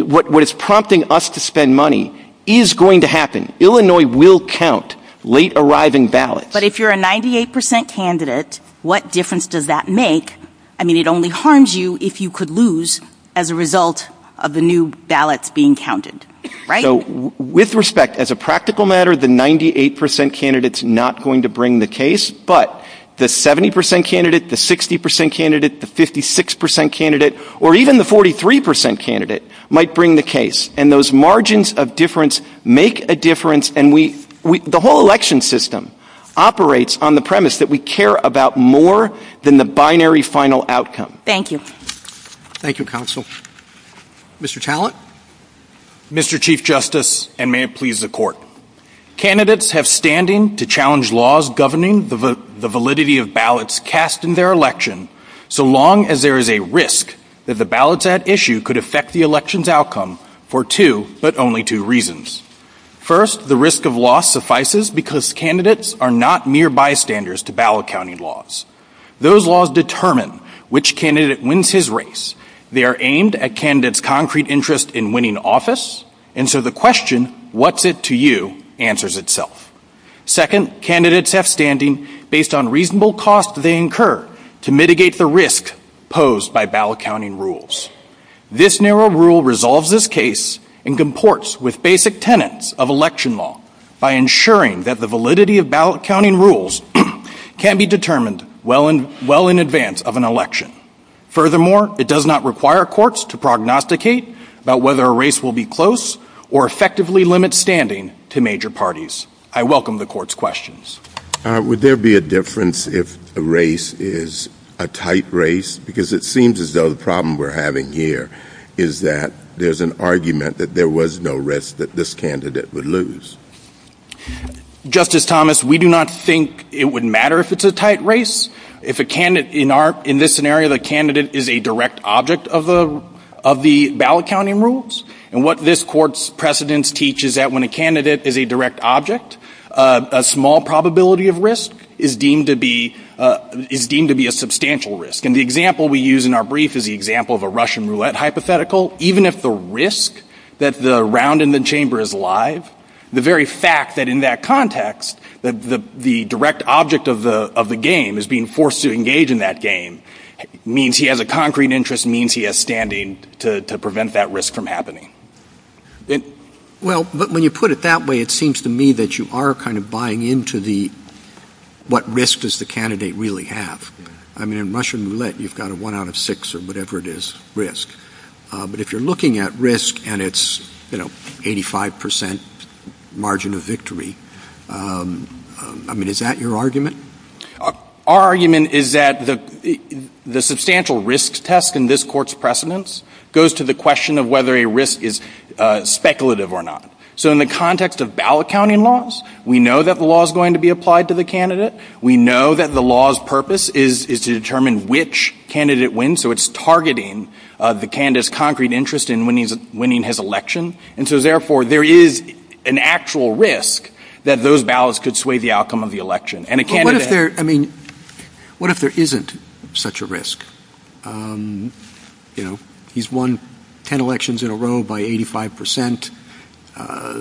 what is prompting us to spend money is going to happen. Illinois will count late arriving ballots. But if you're a 98 percent candidate, what difference does that make? I mean, it only harms you if you could lose as a result of the new ballots being counted. So with respect, as a practical matter, the 98 percent candidates not going to bring the case. But the 70 percent candidate, the 60 percent candidate, the 56 percent candidate or even the 43 percent candidate might bring the case. And those margins of difference make a difference. And the whole election system operates on the premise that we care about more than the binary final outcome. Thank you. Thank you, counsel. Mr. Talent. Mr. Chief Justice, and may it please the court. Candidates have standing to challenge laws governing the validity of ballots cast in their election. So long as there is a risk that the ballots at issue could affect the election's outcome for two, but only two reasons. First, the risk of loss suffices because candidates are not mere bystanders to ballot counting laws. Those laws determine which candidate wins his race. They are aimed at candidates' concrete interest in winning office. And so the question, what's it to you, answers itself. Second, candidates have standing based on reasonable costs they incur to mitigate the risk posed by ballot counting rules. This narrow rule resolves this case and comports with basic tenets of election law by ensuring that the validity of ballot counting rules can be determined well and well in advance of an election. Furthermore, it does not require courts to prognosticate about whether a race will be close or effectively limit standing to major parties. I welcome the court's questions. Would there be a difference if the race is a tight race? Because it seems as though the problem we're having here is that there's an argument that there was no risk that this candidate would lose. Justice Thomas, we do not think it would matter if it's a tight race. If a candidate in this scenario, the candidate is a direct object of the ballot counting rules. And what this court's precedents teach is that when a candidate is a direct object, a small probability of risk is deemed to be is deemed to be a substantial risk. And the example we use in our brief is the example of a Russian roulette hypothetical. Even if the risk that the round in the chamber is live, the very fact that in that context, that the direct object of the of the game is being forced to engage in that game means he has a concrete interest, means he has standing to prevent that risk from happening. Well, when you put it that way, it seems to me that you are kind of buying into the what risk does the candidate really have? I mean, in Russian roulette, you've got a one out of six or whatever it is risk. But if you're looking at risk and it's, you know, 85 percent margin of victory, I mean, is that your argument? Our argument is that the substantial risk test in this court's precedents goes to the question of whether a risk is speculative or not. So in the context of ballot counting laws, we know that the law is going to be applied to the candidate. We know that the law's purpose is to determine which candidate wins. So it's targeting the candidate's concrete interest in when he's winning his election. And so therefore, there is an actual risk that those ballots could sway the outcome of the election. And what if there I mean, what if there isn't such a risk? You know, he's won 10 elections in a row by 85 percent.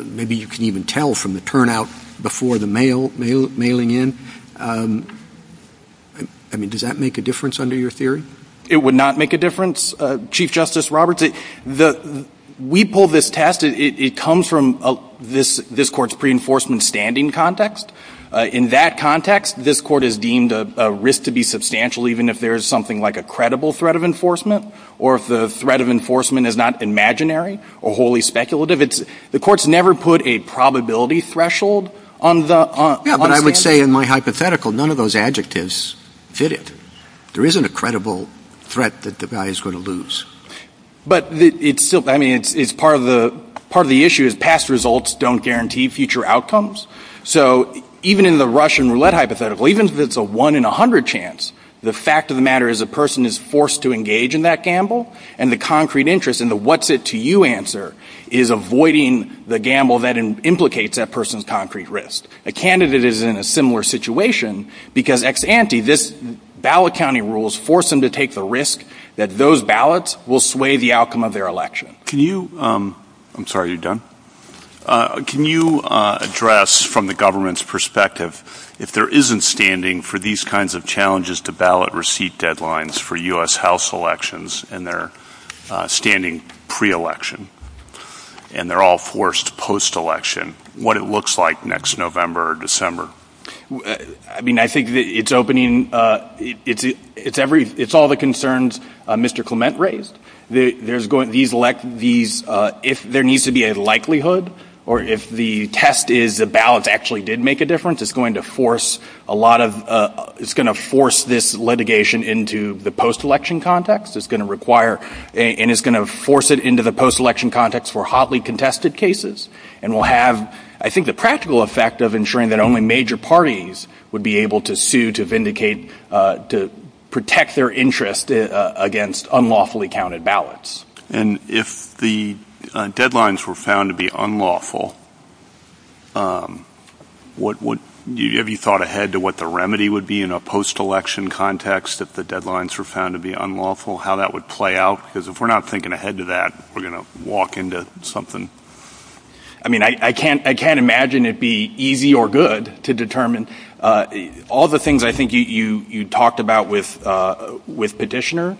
Maybe you can even tell from the turnout before the mail mail mailing in. I mean, does that make a difference under your theory? It would not make a difference. Chief Justice Roberts, the we pull this test. It comes from this this court's pre enforcement standing context. In that context, this court is deemed a risk to be substantial, even if there is something like a credible threat of enforcement or if the threat of enforcement is not imaginary or wholly speculative. The court's never put a probability threshold on the. But I would say in my hypothetical, none of those adjectives fit it. There isn't a credible threat that the guy is going to lose. But it's still I mean, it's part of the part of the issue is past results don't guarantee future outcomes. So even in the Russian roulette hypothetical, even if it's a one in 100 chance, the fact of the matter is a person is forced to engage in that gamble and the concrete interest in the what's it to you answer is avoiding the gamble that implicates that person's concrete risk. A candidate is in a similar situation because ex ante, this ballot county rules force them to take the risk that those ballots will sway the outcome of their election. Can you I'm sorry you're done. Can you address from the government's perspective if there isn't standing for these kinds of challenges to ballot receipt deadlines for U.S. House elections and they're standing pre-election and they're all forced post-election what it looks like next November or December? I mean, I think it's opening it's every it's all the concerns Mr. Clement raised. There's going to be these if there needs to be a likelihood or if the test is the ballots actually did make a difference, it's going to force a lot of it's going to force this litigation into the post-election context. It's going to require and it's going to force it into the post-election context for hotly contested cases and will have, I think, the practical effect of ensuring that only major parties would be able to sue to vindicate to protect their interest against unlawfully counted ballots. And if the deadlines were found to be unlawful, what would you have you thought ahead to what the remedy would be in a post-election context if the deadlines were found to be unlawful, how that would play out? Because if we're not thinking ahead to that, we're going to walk into something. I mean, I can't I can't imagine it be easy or good to determine all the things I think you talked about with Petitioner,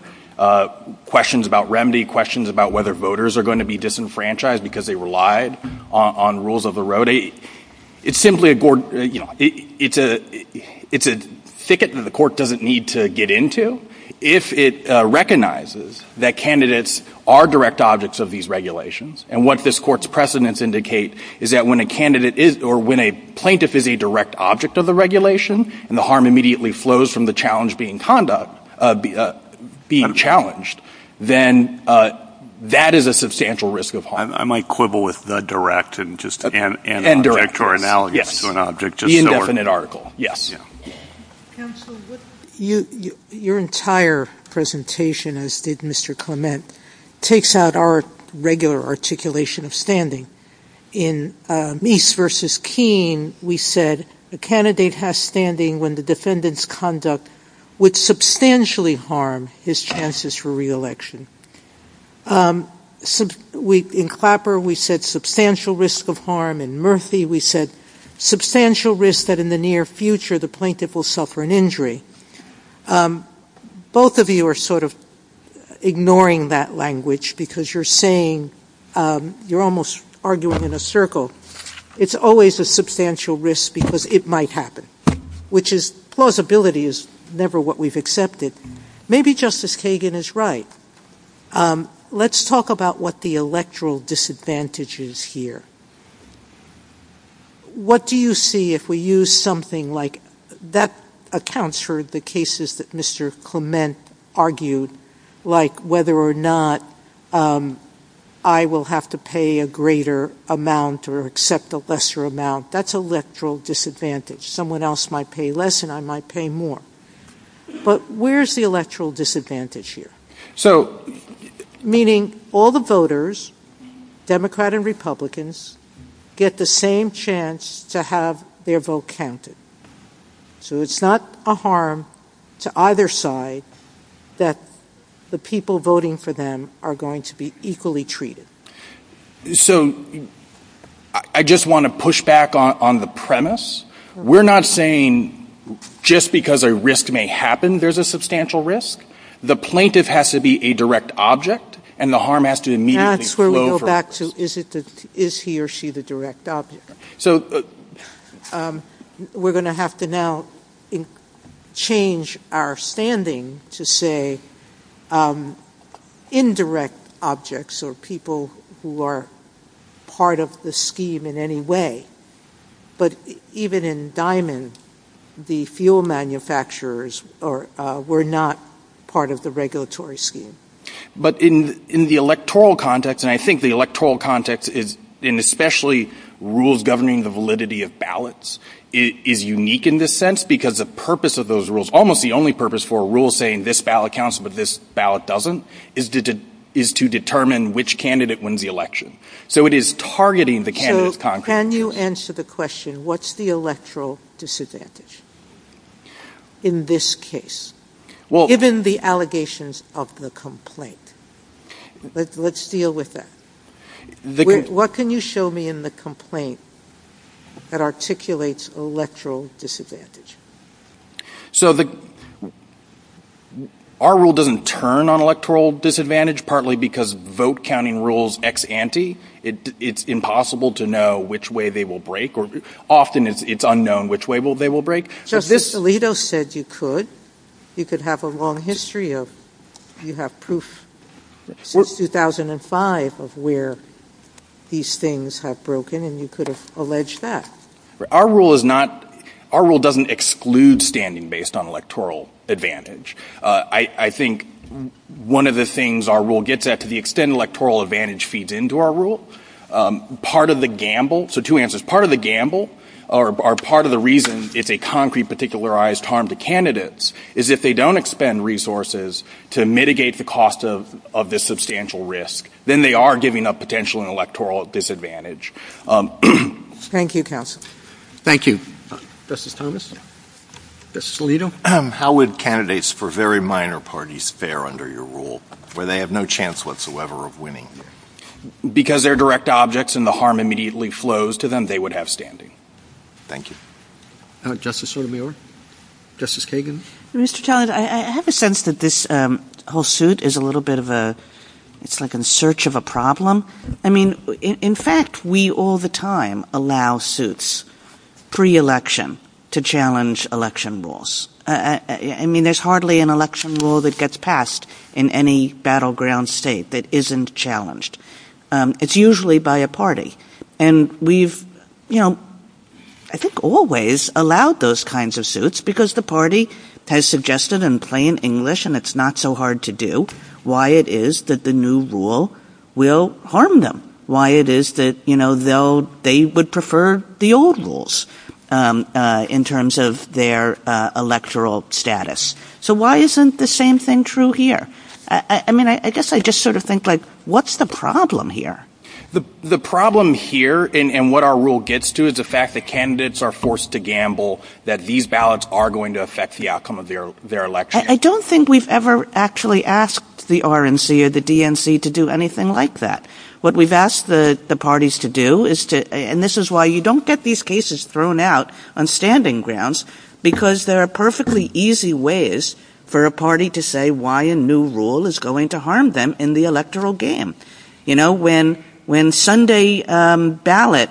questions about remedy, questions about whether voters are going to be disenfranchised because they relied on rules of the road. It's simply a it's a it's a thicket that the court doesn't need to get into if it recognizes that candidates are direct objects of these regulations. And what this court's precedents indicate is that when a candidate is or when a plaintiff is a direct object of the regulation and the harm immediately flows from the challenge being conduct being challenged, then that is a substantial risk of harm. I might quibble with the direct and just and direct or analogous to an object. The indefinite article. Yes. You your entire presentation, as did Mr. Clement, takes out our regular articulation of standing in Meese versus Keene. We said the candidate has standing when the defendant's conduct would substantially harm his chances for reelection. We in Clapper, we said substantial risk of harm in Murphy. We said substantial risk that in the near future, the plaintiff will suffer an injury. Both of you are sort of ignoring that language because you're saying you're almost arguing in a circle. It's always a substantial risk because it might happen, which is plausibility is never what we've accepted. Maybe Justice Kagan is right. Let's talk about what the electoral disadvantage is here. What do you see if we use something like that accounts for the cases that Mr. Clement argued, like whether or not I will have to pay a greater amount or accept a lesser amount? That's electoral disadvantage. Someone else might pay less and I might pay more. But where's the electoral disadvantage here? So meaning all the voters, Democrat and Republicans, get the same chance to have their vote counted. So it's not a harm to either side that the people voting for them are going to be equally treated. So I just want to push back on the premise. We're not saying just because a risk may happen, there's a substantial risk. The plaintiff has to be a direct object and the harm has to immediately flow. Back to is he or she the direct object? So we're going to have to now change our standing to say indirect objects or people who are part of the scheme in any way. But even in Diamond, the fuel manufacturers were not part of the regulatory scheme. But in the electoral context, and I think the electoral context is in especially rules governing the validity of ballots, is unique in this sense because the purpose of those rules, almost the only purpose for a rule saying this ballot counts, but this ballot doesn't, is to determine which candidate wins the election. So it is targeting the candidate's confidence. Can you answer the question, what's the electoral disadvantage in this case, given the allegations of the complaint? Let's deal with that. What can you show me in the complaint that articulates electoral disadvantage? So our rule doesn't turn on electoral disadvantage, partly because vote counting rules ex ante, it's impossible to know which way they will break or often it's unknown which way they will break. So Vistalito said you could, you could have a long history of, you have proof since 2005 of where these things have broken and you could have alleged that. Our rule is not, our rule doesn't exclude standing based on electoral advantage. I think one of the things our rule gets at to the extent electoral advantage feeds into our rule, part of the gamble, so two answers, part of the gamble or part of the reason is a concrete particularized harm to candidates is if they don't expend resources to mitigate the cost of, of this substantial risk, then they are giving up potential and electoral disadvantage. Thank you counsel. Thank you. Justice Thomas. Justice Vistalito. How would candidates for very minor parties fare under your rule where they have no chance whatsoever of winning? Because they're direct objects and the harm immediately flows to them, they would have standing. Thank you. And Justice Sotomayor, Justice Kagan. Mr. Talent, I have a sense that this whole suit is a little bit of a, it's like in search of a problem. I mean, in fact, we all the time allow suits pre-election to challenge election rules. I mean, there's hardly an election rule that gets passed in any battleground state that isn't challenged. It's usually by a party and we've, you know, I think always allowed those kinds of suits because the party has suggested in plain English and it's not so hard to do why it is that the new rule will harm them. Why it is that, you know, they'll, they would prefer the old rules in terms of their electoral status. So why isn't the same thing true here? I mean, I guess I just sort of think like, what's the problem here? The problem here and what our rule gets to is the fact that candidates are forced to gamble that these ballots are going to affect the outcome of their, their election. I don't think we've ever actually asked the RNC or the DNC to do anything like that. What we've asked the parties to do is to, and this is why you don't get these cases thrown out on standing grounds because there are perfectly easy ways for a party to say why a new rule is going to harm them in the electoral game. You know, when, when Sunday ballot,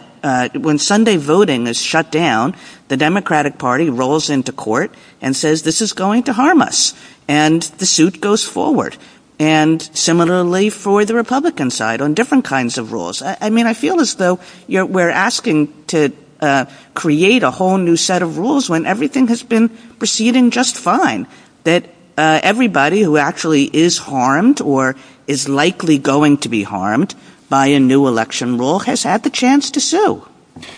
when Sunday voting is shut down, the Democratic Party rolls into court and says, this is going to harm us and the suit goes forward. And similarly for the Republican side on different kinds of rules. I mean, I feel as though we're asking to create a whole new set of rules when everything has been proceeding just fine, that everybody who actually is harmed or is likely going to be harmed by a new election rule has had the chance to sue.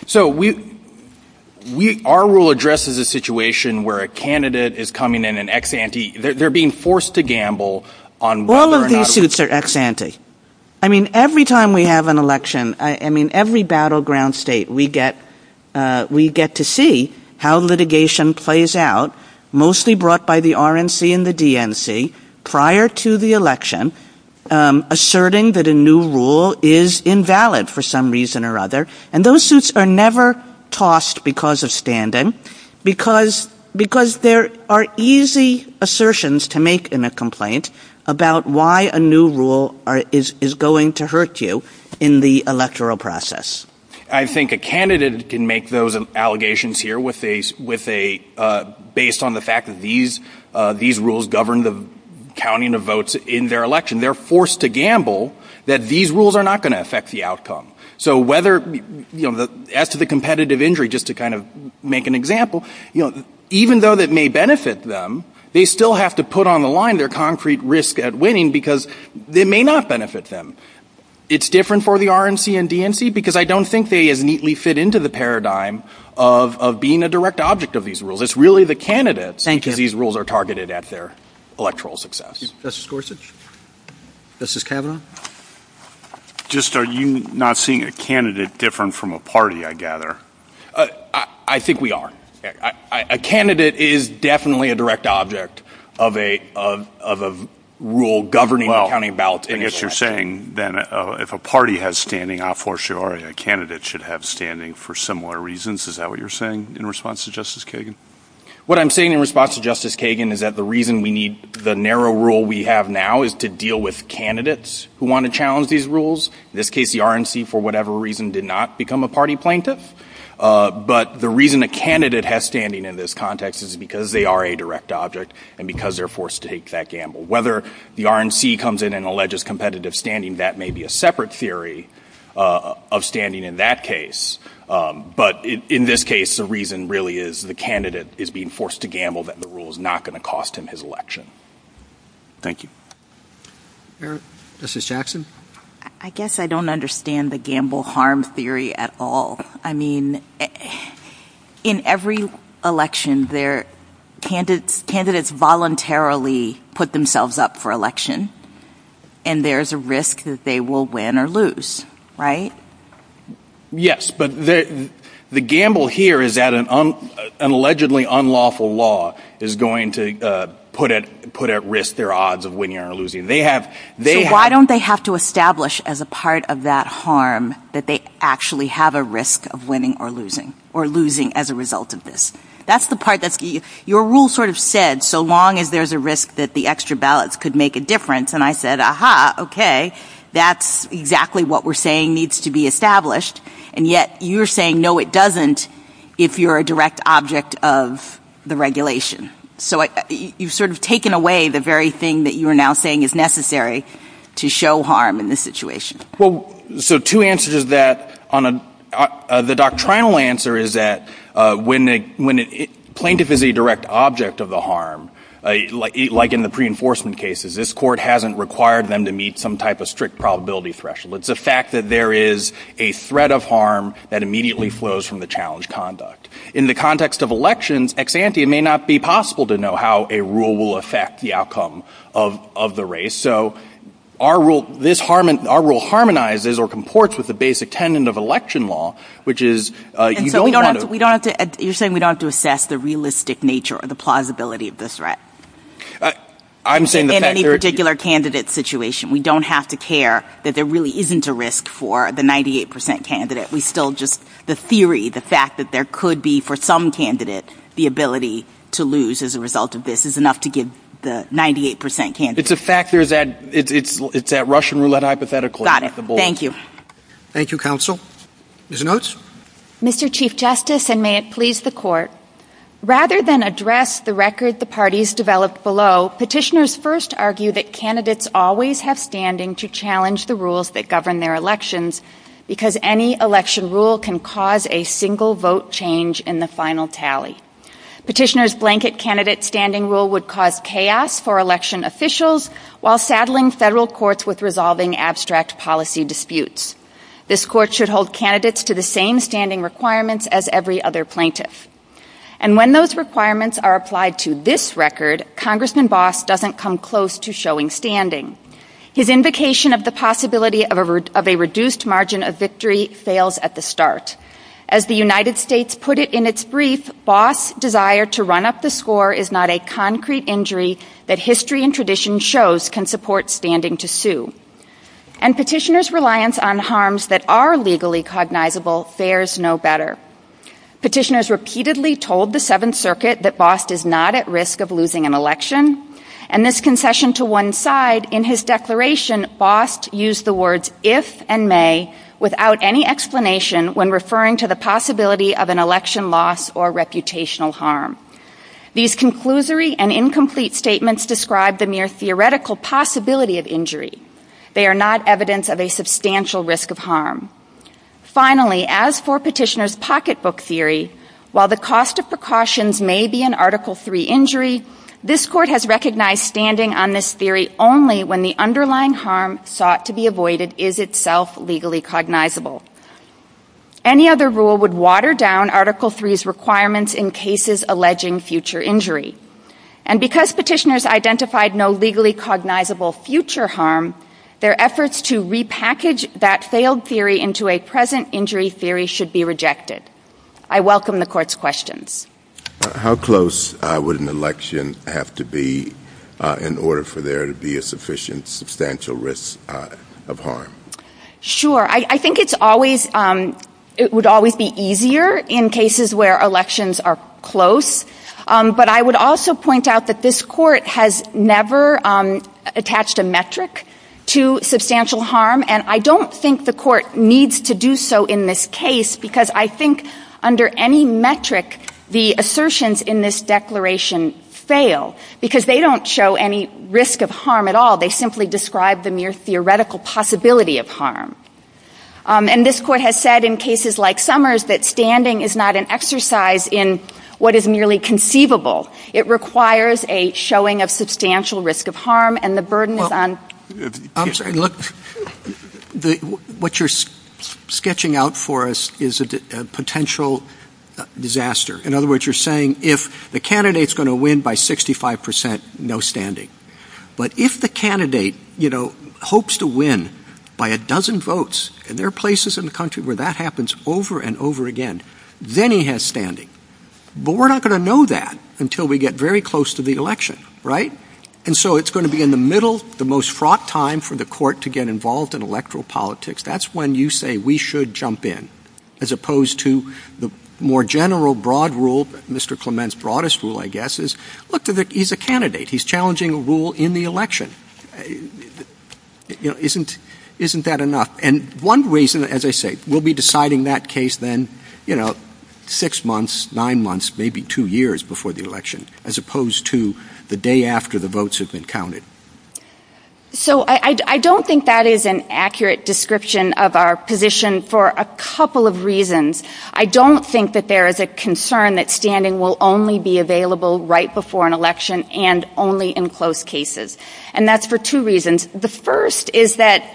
So we, we, our rule addresses a situation where a candidate is coming in and ex ante, they're being forced to gamble on whether or not... All of these suits are ex ante. I mean, every time we have an election, I mean, every battleground state we get, we get to see how litigation plays out, mostly brought by the RNC and the DNC prior to the election, asserting that a new rule is invalid for some reason or other. And those suits are never tossed because of stand-in, because, because there are easy assertions to make in a complaint about why a new rule is going to hurt you in the electoral process. I think a candidate can make those allegations here with a, with a, based on the fact that these, these rules govern the counting of votes in their election. They're forced to gamble that these rules are not going to affect the outcome. So whether, you know, the, as to the competitive injury, just to kind of make an example, you know, even though that may benefit them, they still have to put on the line, their concrete risk at winning because they may not benefit them. It's different for the RNC and DNC because I don't think they as neatly fit into the paradigm of, of being a direct object of these rules. It's really the candidates. Thank you. These rules are targeted at their electoral success. Justice Gorsuch? Justice Kavanaugh? Just, are you not seeing a candidate different from a party, I gather? I think we are. A candidate is definitely a direct object of a, of, of a rule governing the counting of ballots in an election. Well, I guess you're saying then if a party has standing, I'm for sure a candidate should have standing for similar reasons. Is that what you're saying in response to Justice Kagan? What I'm saying in response to Justice Kagan is that the reason we need the narrow rule we have now is to deal with candidates. We want to challenge these rules. In this case, the RNC, for whatever reason, did not become a party plaintiff. But the reason a candidate has standing in this context is because they are a direct object and because they're forced to take that gamble. Whether the RNC comes in and alleges competitive standing, that may be a separate theory of standing in that case. But in this case, the reason really is the candidate is being forced to gamble that the rule is not going to cost him his election. Thank you. Eric, Mrs. Jackson? I guess I don't understand the gamble harm theory at all. I mean, in every election there, candidates, candidates voluntarily put themselves up for election and there's a risk that they will win or lose, right? Yes, but the gamble here is that an un, an allegedly unlawful law is going to put put at risk their odds of winning or losing. They have, they have. Why don't they have to establish as a part of that harm that they actually have a risk of winning or losing or losing as a result of this? That's the part that your rule sort of said, so long as there's a risk that the extra ballots could make a difference. And I said, aha, OK, that's exactly what we're saying needs to be established. And yet you're saying, no, it doesn't. If you're a direct object of the regulation. So you've sort of taken away the very thing that you are now saying is necessary to show harm in this situation. Well, so two answers is that on the doctrinal answer is that when they, when it plaintiff is a direct object of the harm, like in the pre-enforcement cases, this court hasn't required them to meet some type of strict probability threshold. It's a fact that there is a threat of harm that immediately flows from the challenge conduct. In the context of elections, it may not be possible to know how a rule will affect the outcome of the race. So our rule, this harm, our rule harmonizes or comports with the basic tenet of election law, which is you don't want to, we don't have to, you're saying we don't have to assess the realistic nature of the plausibility of the threat. I'm saying that in any particular candidate situation, we don't have to care that there really isn't a risk for the 98 percent candidate. We still just the theory, the fact that there could be for some candidates, the ability to lose as a result of this is enough to give the 98 percent candidate. It's a factor that it's, it's that Russian roulette hypothetical. Got it. Thank you. Thank you. Counsel is a nurse. Mr. Chief justice and may it please the court rather than address the record, the parties developed below petitioners first argue that candidates always have standing to challenge the rules that govern their elections because any election rule can cause a single vote change in the final tally. Petitioners blanket candidate standing rule would cause chaos for election officials while saddling federal courts with resolving abstract policy disputes. This court should hold candidates to the same standing requirements as every other plaintiff. And when those requirements are applied to this record, congressman boss doesn't come close to showing standing. His invocation of the possibility of a reduced margin of victory fails at the start as the United States put it in its brief boss desire to run up the score is not a concrete injury that history and tradition shows can support standing to sue and petitioners reliance on harms that are legally cognizable. There's no better petitioners repeatedly told the seventh circuit that boss is not at risk of losing an election and this concession to one side in his declaration boss use the words if and may without any explanation when referring to the possibility of an election loss or reputational harm. These conclusory and incomplete statements describe the near theoretical possibility of injury. They are not evidence of a substantial risk of harm. Finally, as for petitioners pocketbook theory, while the cost of precautions may be an article three injury, this court has recognized standing on this theory only when the underlying harm sought to be avoided is itself legally cognizable. Any other rule would water down article three's requirements in cases alleging future injury and because petitioners identified no legally cognizable future harm, their efforts to repackage that failed theory into a present injury theory should be rejected. I welcome the court's questions. How close would an election have to be in order for there to be a sufficient substantial risk of harm? Sure. I think it's always it would always be easier in cases where elections are close. But I would also point out that this court has never attached a metric to substantial harm and I don't think the court needs to do so in this case because I think under any metric the assertions in this declaration fail because they don't show any risk of harm at all. They simply describe the mere theoretical possibility of harm. And this court has said in cases like Summers that standing is not an exercise in what is merely conceivable. It requires a showing of substantial risk of harm and the burden is on. I'm sorry. Look, what you're sketching out for us is a potential disaster. In other words, you're saying if the candidate is going to win by 65 percent, no standing. But if the candidate, you know, hopes to win by a dozen votes and there are places in the country where that happens over and over again, then he has standing. But we're not going to know that until we get very close to the election. Right. And so it's going to be in the middle, the most fraught time for the court to get involved in electoral politics. That's when you say we should jump in as opposed to the more general broad rule. Mr. Clement's broadest rule, I guess, is look, he's a candidate. He's challenging a rule in the election. Isn't isn't that enough? And one reason, as I say, we'll be deciding that case then, you know, six months, nine months, maybe two years before the election, as opposed to the day after the votes have been counted. So I don't think that is an accurate description of our position for a couple of reasons. I don't think that there is a concern that standing will only be available right before an election and only in close cases. And that's for two reasons. The first is that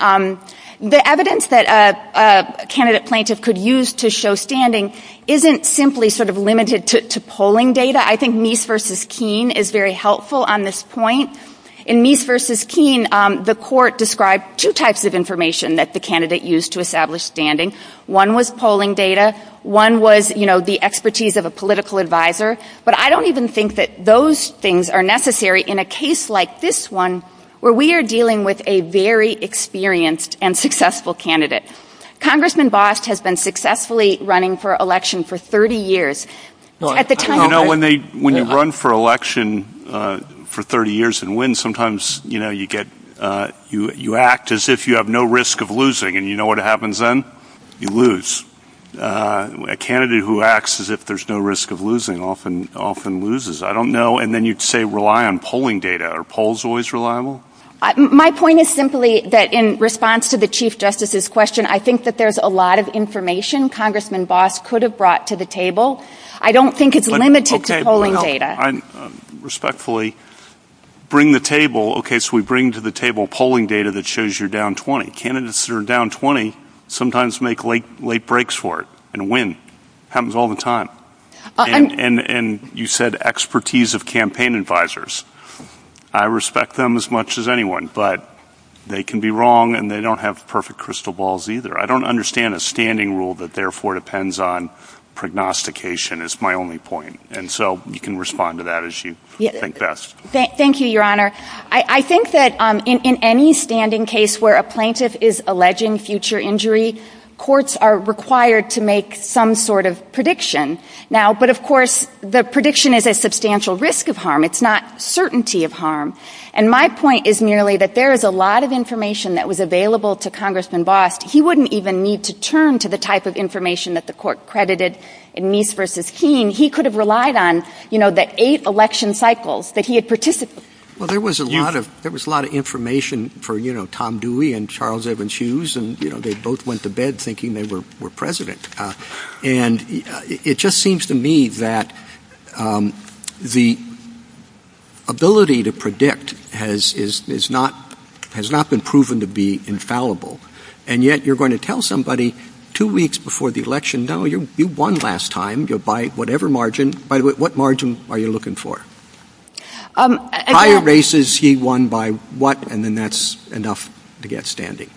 the evidence that a candidate plaintiff could use to show standing isn't simply sort of limited to polling data. I think Nice versus Keene is very helpful on this point. In Nice versus Keene, the court described two types of information that the candidate used to establish standing. One was polling data. One was the expertise of a political advisor. But I don't even think that those things are necessary in a case like this one where we are dealing with a very experienced and successful candidate. Congressman Bosch has been successfully running for election for 30 years. At the time, you know, when they when you run for election for 30 years and win, sometimes, you know, you get you you act as if you have no risk of losing and you know what happens then you lose a candidate who acts as if there's no risk of losing often often loses. I don't know. And then you'd say rely on polling data or polls always reliable. My point is simply that in response to the chief justice's question, I think that there's a lot of information Congressman Bosch could have brought to the table. I don't think it's limited to polling data. Respectfully, bring the table. OK, so we bring to the table polling data that shows you're down 20 candidates are down 20, sometimes make late late breaks for it. And when happens all the time and you said expertise of campaign advisors. I respect them as much as anyone, but they can be wrong and they don't have perfect crystal balls either. I don't understand a standing rule that therefore depends on prognostication is my only point. And so you can respond to that as you think best. Thank you, Your Honor. I think that in any standing case where a plaintiff is alleging future injury, courts are required to make some sort of prediction now. But of course, the prediction is a substantial risk of harm. It's not certainty of harm. And my point is merely that there is a lot of information that was available to Congressman Bosch. He wouldn't even need to turn to the type of information that the court credited in Meese versus Keene. He could have relied on, you know, that eight election cycles that he had participated. Well, there was a lot of there was a lot of information for, you know, Tom Dewey and Charles Evans Hughes. And, you know, they both went to bed thinking they were president. And it just seems to me that the ability to predict has is is not has not been proven to be infallible. And yet you're going to tell somebody two weeks before the election, no, you won last time, you're by whatever margin. What margin are you looking for? Higher races, he won by what? And then that's enough to get standing.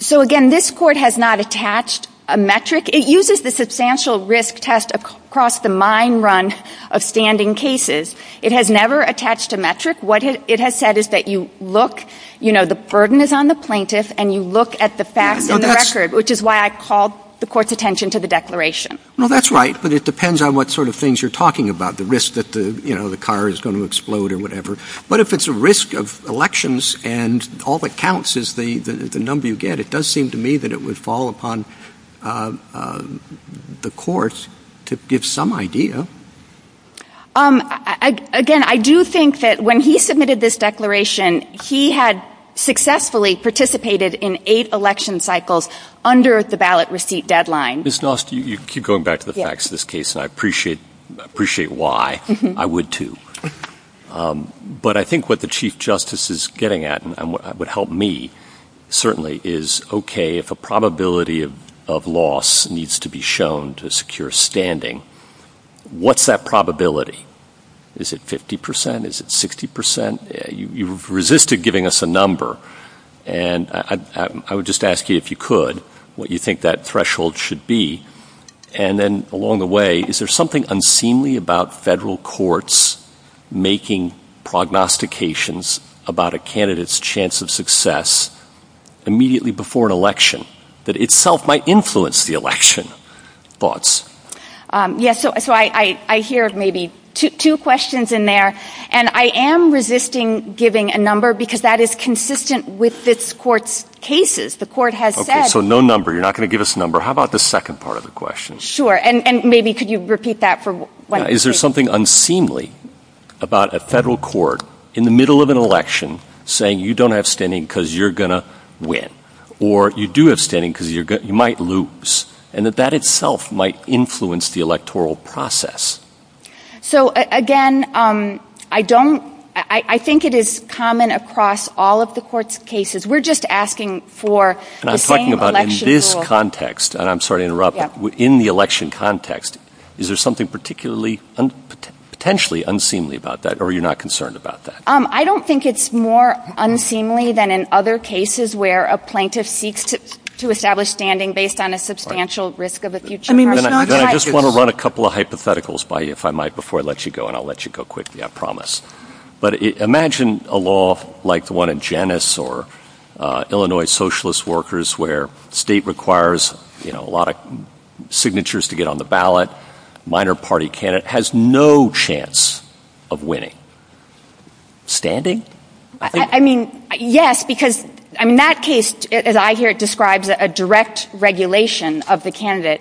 So, again, this court has not attached a metric. It uses the substantial risk test across the mine run of standing cases. It has never attached a metric. What it has said is that you look, you know, the burden is on the plaintiff and you look at the facts and the record, which is why I called the court's attention to the declaration. Well, that's right. But it depends on what sort of things you're talking about, the risk that the car is going to explode or whatever. But if it's a risk of elections and all that counts is the the number you get, it does seem to me that it would fall upon the courts to give some idea. Again, I do think that when he submitted this declaration, he had successfully participated in eight election cycles under the ballot receipt deadline. This last year, you keep going back to the facts of this case. I appreciate appreciate why I would, too. But I think what the chief justice is getting at and what would help me certainly is OK, if a probability of loss needs to be shown to secure standing, what's that probability? Is it 50 percent? Is it 60 percent? You've resisted giving us a number and I would just ask you if you could what you think that threshold should be. And then along the way, is there something unseemly about federal courts making prognostications about a candidate's chance of success immediately before an election that itself might influence the election? Yes. So I hear maybe two questions in there and I am resisting giving a number because that is consistent with this court's cases. The court has said so. No number. You're not going to give us a number. How about the second part of the question? Sure. And maybe could you repeat that for what is there something unseemly about a federal court in the middle of an election saying you don't have standing because you're going to win or you do have standing because you might lose and that that itself might influence the electoral process. So, again, I don't I think it is common across all of the court's cases. We're just asking for. I'm talking about in this context and I'm sorry to interrupt in the election context. Is there something particularly and potentially unseemly about that or are you not concerned about that? I don't think it's more unseemly than in other cases where a plaintiff seeks to establish standing based on a substantial risk of a future. I mean, I just want to run a couple of hypotheticals by if I might before I let you go and I'll let you go quickly, I promise. But imagine a law like the one in Janice or Illinois, socialist workers where state requires a lot of signatures to get on the ballot. Minor party candidate has no chance of winning. Standing, I mean, yes, because in that case, as I hear it described, a direct regulation of the candidate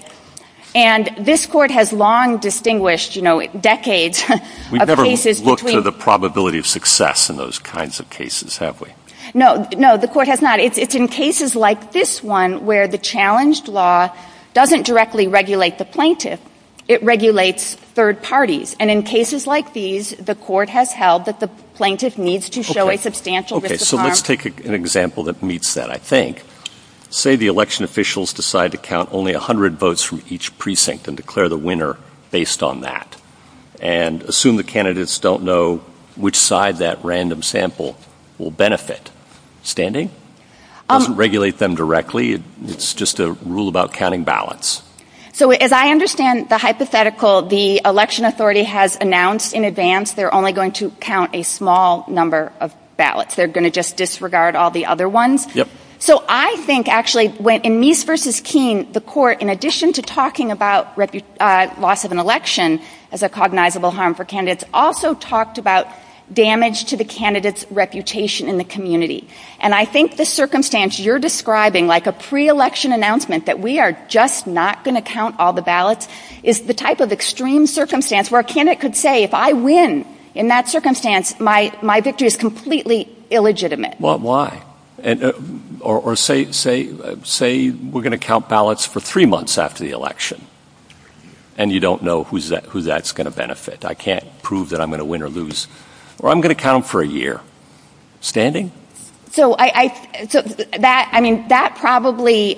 and this court has long distinguished decades of work to the probability of success in those kinds of cases, have we? No, no, the court has not. It's in cases like this one where the challenged law doesn't directly regulate the plaintiff. It regulates third parties. And in cases like these, the court has held that the plaintiff needs to show a substantial risk. So let's take an example that meets that. I think, say, the election officials decide to count only 100 votes from each precinct and declare the winner based on that. And assume the candidates don't know which side that random sample will benefit. Standing doesn't regulate them directly. It's just a rule about counting ballots. So as I understand the hypothetical, the election authority has announced in advance they're only going to count a small number of ballots. They're going to just disregard all the other ones. So I think actually when in Meese versus Keene, the court, in addition to talking about the loss of an election as a cognizable harm for candidates, also talked about damage to the candidate's reputation in the community. And I think the circumstance you're describing, like a pre-election announcement that we are just not going to count all the ballots, is the type of extreme circumstance where a candidate could say, if I win in that circumstance, my victory is completely illegitimate. Well, why? Or say we're going to count ballots for three months after the election, and you don't know who that's going to benefit. I can't prove that I'm going to win or lose. Or I'm going to count for a year. Standing? So I mean, that probably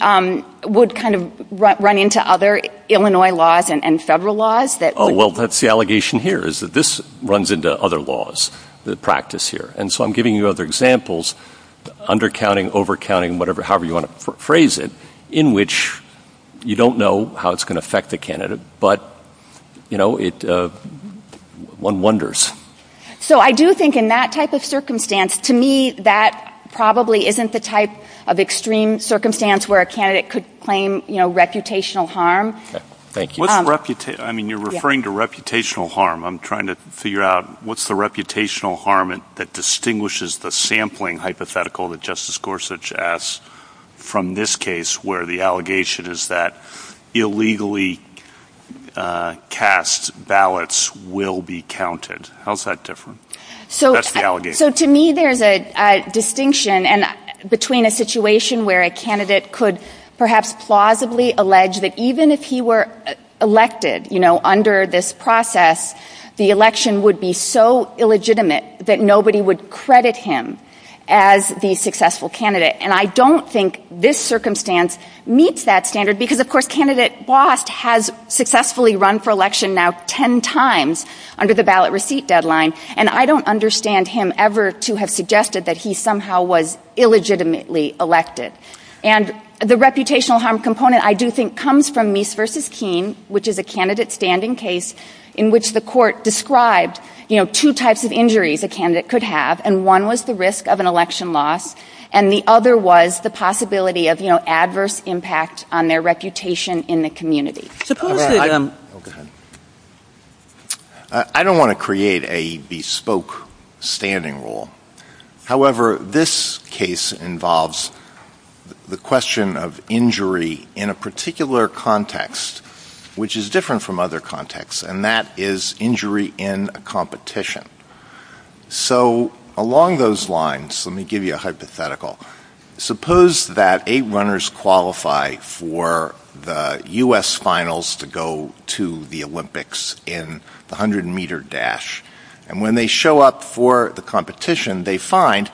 would kind of run into other Illinois laws and federal laws. Oh, well, that's the allegation here is that this runs into other laws, the practice here. And so I'm giving you other examples, undercounting, overcounting, whatever, however you want to phrase it, in which you don't know how it's going to affect the candidate. But, you know, it one wonders. So I do think in that type of circumstance, to me, that probably isn't the type of extreme circumstance where a candidate could claim, you know, reputational harm. Thank you. I mean, you're referring to reputational harm. I'm trying to figure out what's the reputational harm that distinguishes the sampling hypothetical that Justice Gorsuch asks from this case, where the allegation is that illegally cast ballots will be counted. How's that different? So to me, there's a distinction between a situation where a candidate could perhaps plausibly allege that even if he were elected, you know, under this process, the election would be so illegitimate that nobody would credit him as the successful candidate. And I don't think this circumstance meets that standard because, of course, Candidate Blast has successfully run for election now 10 times under the ballot receipt deadline. And I don't understand him ever to have suggested that he somehow was illegitimately elected. And the reputational harm component, I do think, comes from Meese v. Keene, which is a candidate standing case in which the court described, you know, two types of injuries a candidate could have. And one was the risk of an election loss. And the other was the possibility of, you know, adverse impact on their reputation in the community. I don't want to create a bespoke standing rule. However, this case involves the question of injury in a particular context, which is different from other contexts, and that is injury in a competition. So along those lines, let me give you a hypothetical. Suppose that eight runners qualify for the U.S. finals to go to the Olympics in the 100 meter dash. And when they show up for the competition, they find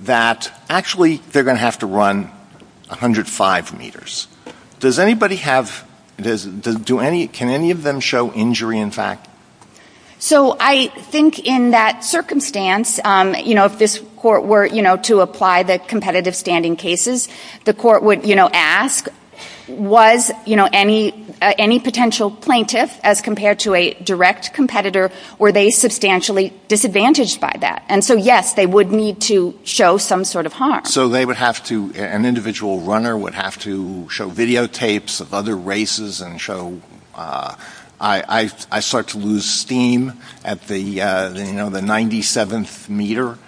that actually they're going to have to run 105 meters. Does anybody have, can any of them show injury, in fact? So I think in that circumstance, you know, if this court were, you know, to apply the competitive standing cases, the court would, you know, ask, was, you know, any potential plaintiff as compared to a direct competitor, were they substantially disadvantaged by that? And so, yes, they would need to show some sort of harm. So they would have to, an individual runner would have to show videotapes of other races and show, I start to lose steam at the, you know, the 97th meter.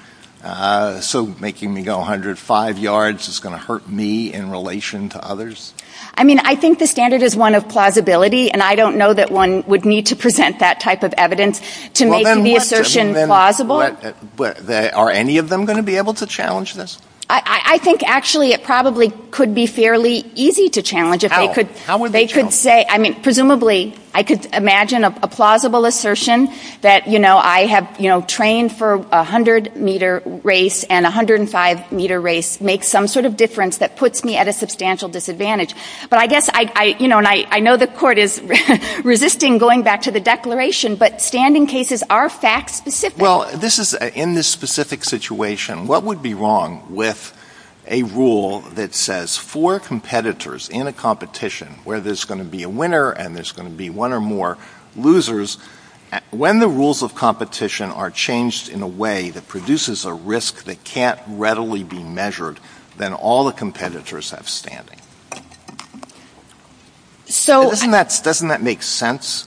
So making me go 105 yards is going to hurt me in relation to others. I mean, I think the standard is one of plausibility, and I don't know that one would need to present that type of evidence to make the assertion plausible. Are any of them going to be able to challenge this? I think actually it probably could be fairly easy to challenge. If they could, they could say, I mean, presumably I could imagine a plausible assertion that, you know, I have, you know, trained for 100 meter race and 105 meter race makes some sort of difference that puts me at a substantial disadvantage. But I guess I, you know, and I know the court is resisting going back to the declaration, but standing cases are fact specific. Well, this is in this specific situation, what would be wrong with a rule that says for competitors in a competition where there's going to be a winner and there's going to be one or more losers when the rules of competition are changed in a way that produces a risk that can't readily be measured, then all the competitors have standing. So doesn't that make sense?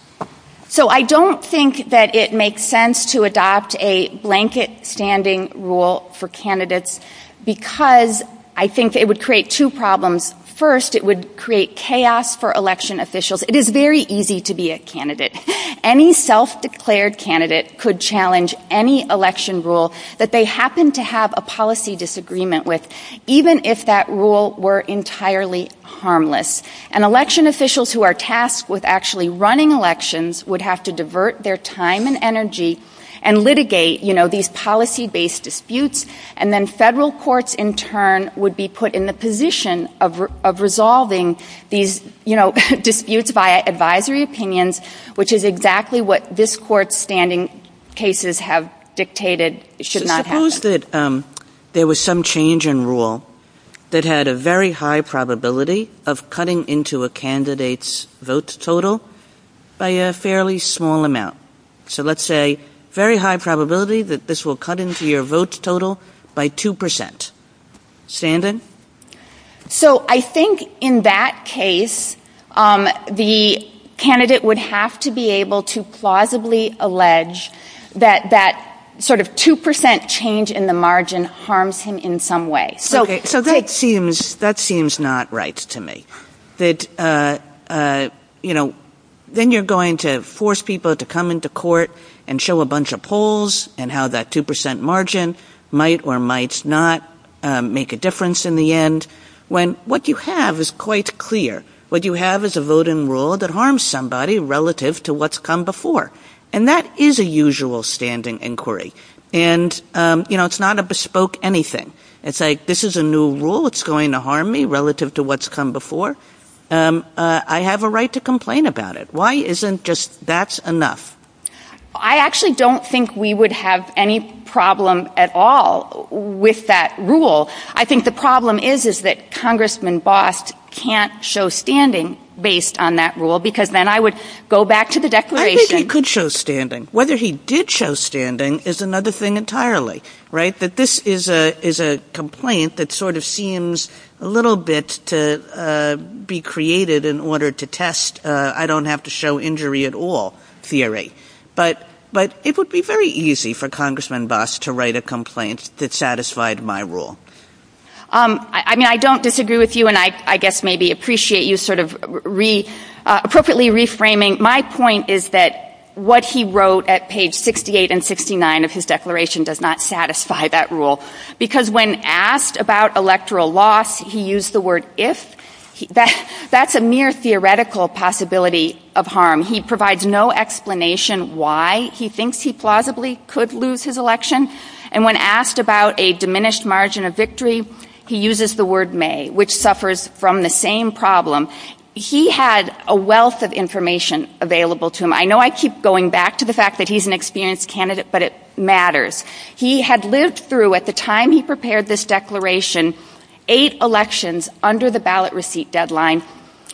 So I don't think that it makes sense to adopt a blanket standing rule for candidates because I think it would create two problems. First, it would create chaos for election officials. It is very easy to be a candidate. Any self-declared candidate could challenge any election rule that they happen to have a policy disagreement with, even if that rule were entirely harmless. And election officials who are tasked with actually running elections would have to divert their time and energy and litigate, you know, these policy based disputes. And then federal courts, in turn, would be put in the position of resolving these, you know, disputes, which is exactly what this court's standing cases have dictated should not happen. Suppose that there was some change in rule that had a very high probability of cutting into a candidate's vote total by a fairly small amount. So let's say very high probability that this will cut into your vote total by 2 percent. Standing? So I think in that case, the candidate would have to be able to plausibly allege that that sort of 2 percent change in the margin harms him in some way. So that seems that seems not right to me that, you know, then you're going to force people to come into court and show a bunch of polls and how that 2 percent margin might or might not make a difference in the end when what you have is quite clear. What you have is a voting rule that harms somebody relative to what's come before. And that is a usual standing inquiry. And, you know, it's not a bespoke anything. It's like this is a new rule. It's going to harm me relative to what's come before. I have a right to complain about it. Why isn't just that's enough? I actually don't think we would have any problem at all with that rule. I think the problem is, is that Congressman Bost can't show standing based on that rule, because then I would go back to the declaration. He could show standing. Whether he did show standing is another thing entirely right. That this is a is a complaint that sort of seems a little bit to be created in order to I don't have to show injury at all theory, but but it would be very easy for Congressman Bost to write a complaint that satisfied my rule. I mean, I don't disagree with you, and I guess maybe appreciate you sort of re appropriately reframing. My point is that what he wrote at page 68 and 69 of his declaration does not satisfy that rule, because when asked about electoral law, he used the word if that's a mere theoretical possibility of harm. He provides no explanation why he thinks he plausibly could lose his election. And when asked about a diminished margin of victory, he uses the word may, which suffers from the same problem. He had a wealth of information available to him. I know I keep going back to the fact that he's an experienced candidate, but it matters. He had lived through at the time he prepared this declaration, eight elections under the ballot receipt deadline.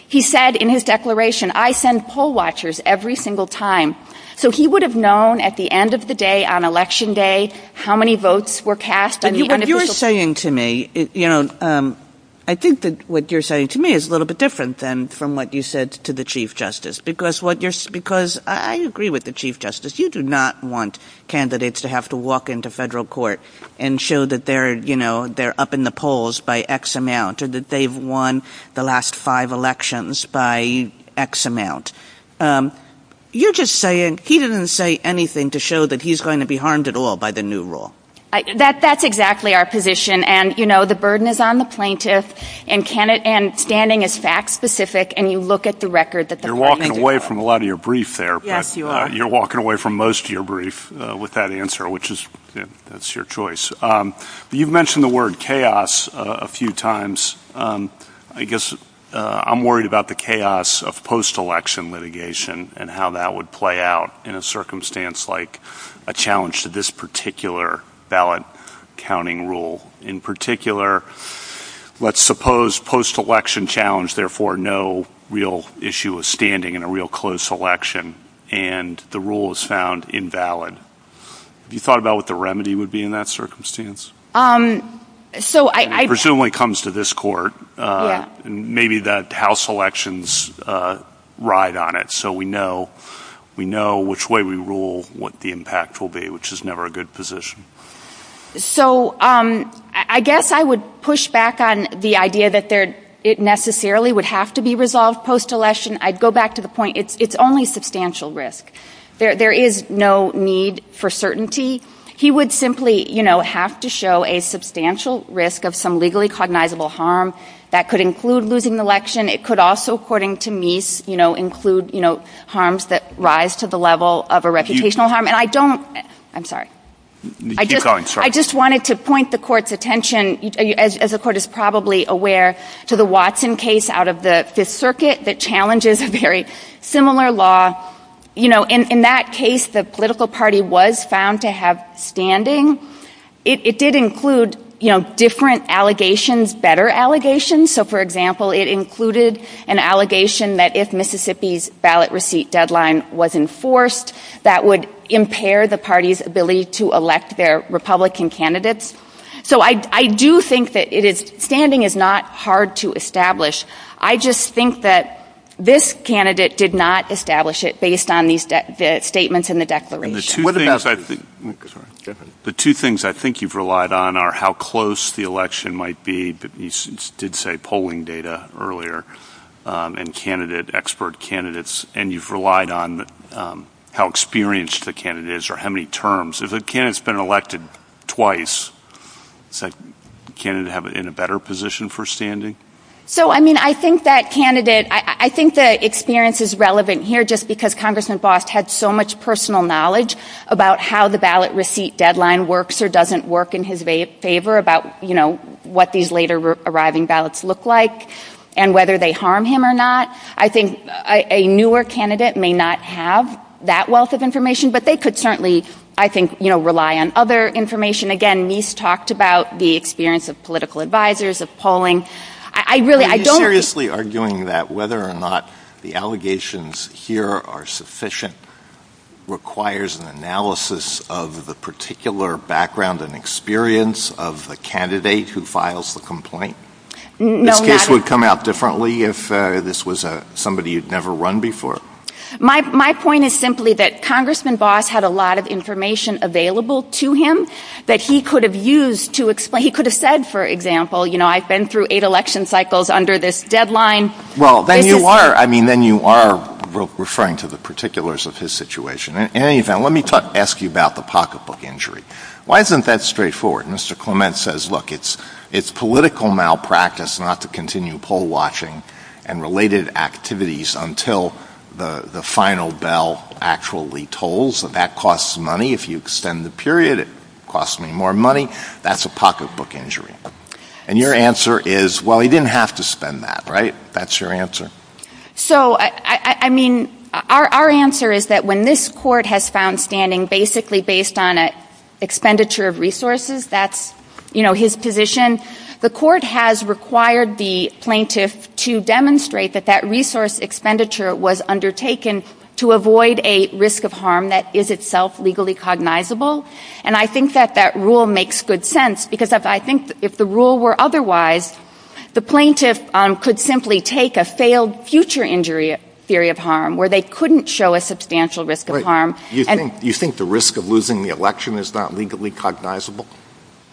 He said in his declaration, I send poll watchers every single time. So he would have known at the end of the day on Election Day how many votes were cast. And you're saying to me, you know, I think that what you're saying to me is a little bit different than from what you said to the chief justice, because what you're because I agree with the chief justice. You do not want candidates to have to walk into federal court and show that they're, you know, they're up in the polls by X amount or that they've won the last five elections by X amount. You're just saying he doesn't say anything to show that he's going to be harmed at all by the new rule. That's exactly our position. And, you know, the burden is on the plaintiff and standing is fact specific. And you look at the record that you're walking away from a lot of your brief there. You're walking away from most of your brief with that answer, which is that's your choice. You've mentioned the word chaos a few times. I guess I'm worried about the chaos of post-election litigation and how that would play out in a circumstance like a challenge to this particular ballot counting rule. In particular, let's suppose post-election challenge, therefore, no real issue of standing in a real close election and the rule is found invalid. You thought about what the remedy would be in that circumstance? So I presumably comes to this court and maybe that house elections ride on it. So we know we know which way we rule, what the impact will be, which is never a good position. So I guess I would push back on the idea that there it necessarily would have to be resolved post-election. I'd go back to the point. It's only substantial risk. There is no need for certainty. He would simply, you know, have to show a substantial risk of some legally cognizable harm that could include losing the election. It could also, according to me, you know, include, you know, harms that rise to the level of a reputational harm. I don't. I'm sorry. I just wanted to point the court's attention, as the court is probably aware, to the Watson case out of the Fifth Circuit that challenges a very similar law. You know, in that case, the political party was found to have standing. It did include, you know, different allegations, better allegations. So, for example, it included an allegation that if Mississippi's ballot receipt deadline was enforced, that would impair the party's ability to elect their Republican candidates. So I do think that it is standing is not hard to establish. I just think that this candidate did not establish it based on these statements in the declaration. The two things I think you've relied on are how close the election might be. But you did say polling data earlier and candidate, expert candidates. And you've relied on how experienced the candidate is or how many terms. If a candidate's been elected twice, is the candidate in a better position for polling? So, I mean, I think that candidate, I think that experience is relevant here just because Congressman Boss had so much personal knowledge about how the ballot receipt deadline works or doesn't work in his favor about, you know, what these later arriving ballots look like and whether they harm him or not. I think a newer candidate may not have that wealth of information, but they could certainly, I think, you know, rely on other information. And again, Nice talked about the experience of political advisers of polling. I really, I don't. Are you seriously arguing that whether or not the allegations here are sufficient requires an analysis of the particular background and experience of the candidate who files the complaint? No. This case would come out differently if this was somebody you've never run before. My point is simply that Congressman Boss had a lot of information available to him that he could have used to explain. He could have said, for example, you know, I've been through eight election cycles under this deadline. Well, then you are. I mean, then you are referring to the particulars of his situation. In any event, let me ask you about the pocketbook injury. Why isn't that straightforward? Mr. Clement says, look, it's it's political malpractice not to continue poll watching and related activities until the final bell actually tolls. That costs money. If you extend the period, it costs me more money. That's a pocketbook injury. And your answer is, well, he didn't have to spend that. Right. That's your answer. So, I mean, our answer is that when this court has found standing basically based on a expenditure of resources, that's his position. The court has required the plaintiff to demonstrate that that resource expenditure was undertaken to avoid a risk of harm that is itself legally cognizable. And I think that that rule makes good sense, because I think if the rule were otherwise, the plaintiff could simply take a failed future injury theory of harm where they couldn't show a substantial risk of harm. And you think the risk of losing the election is not legally cognizable?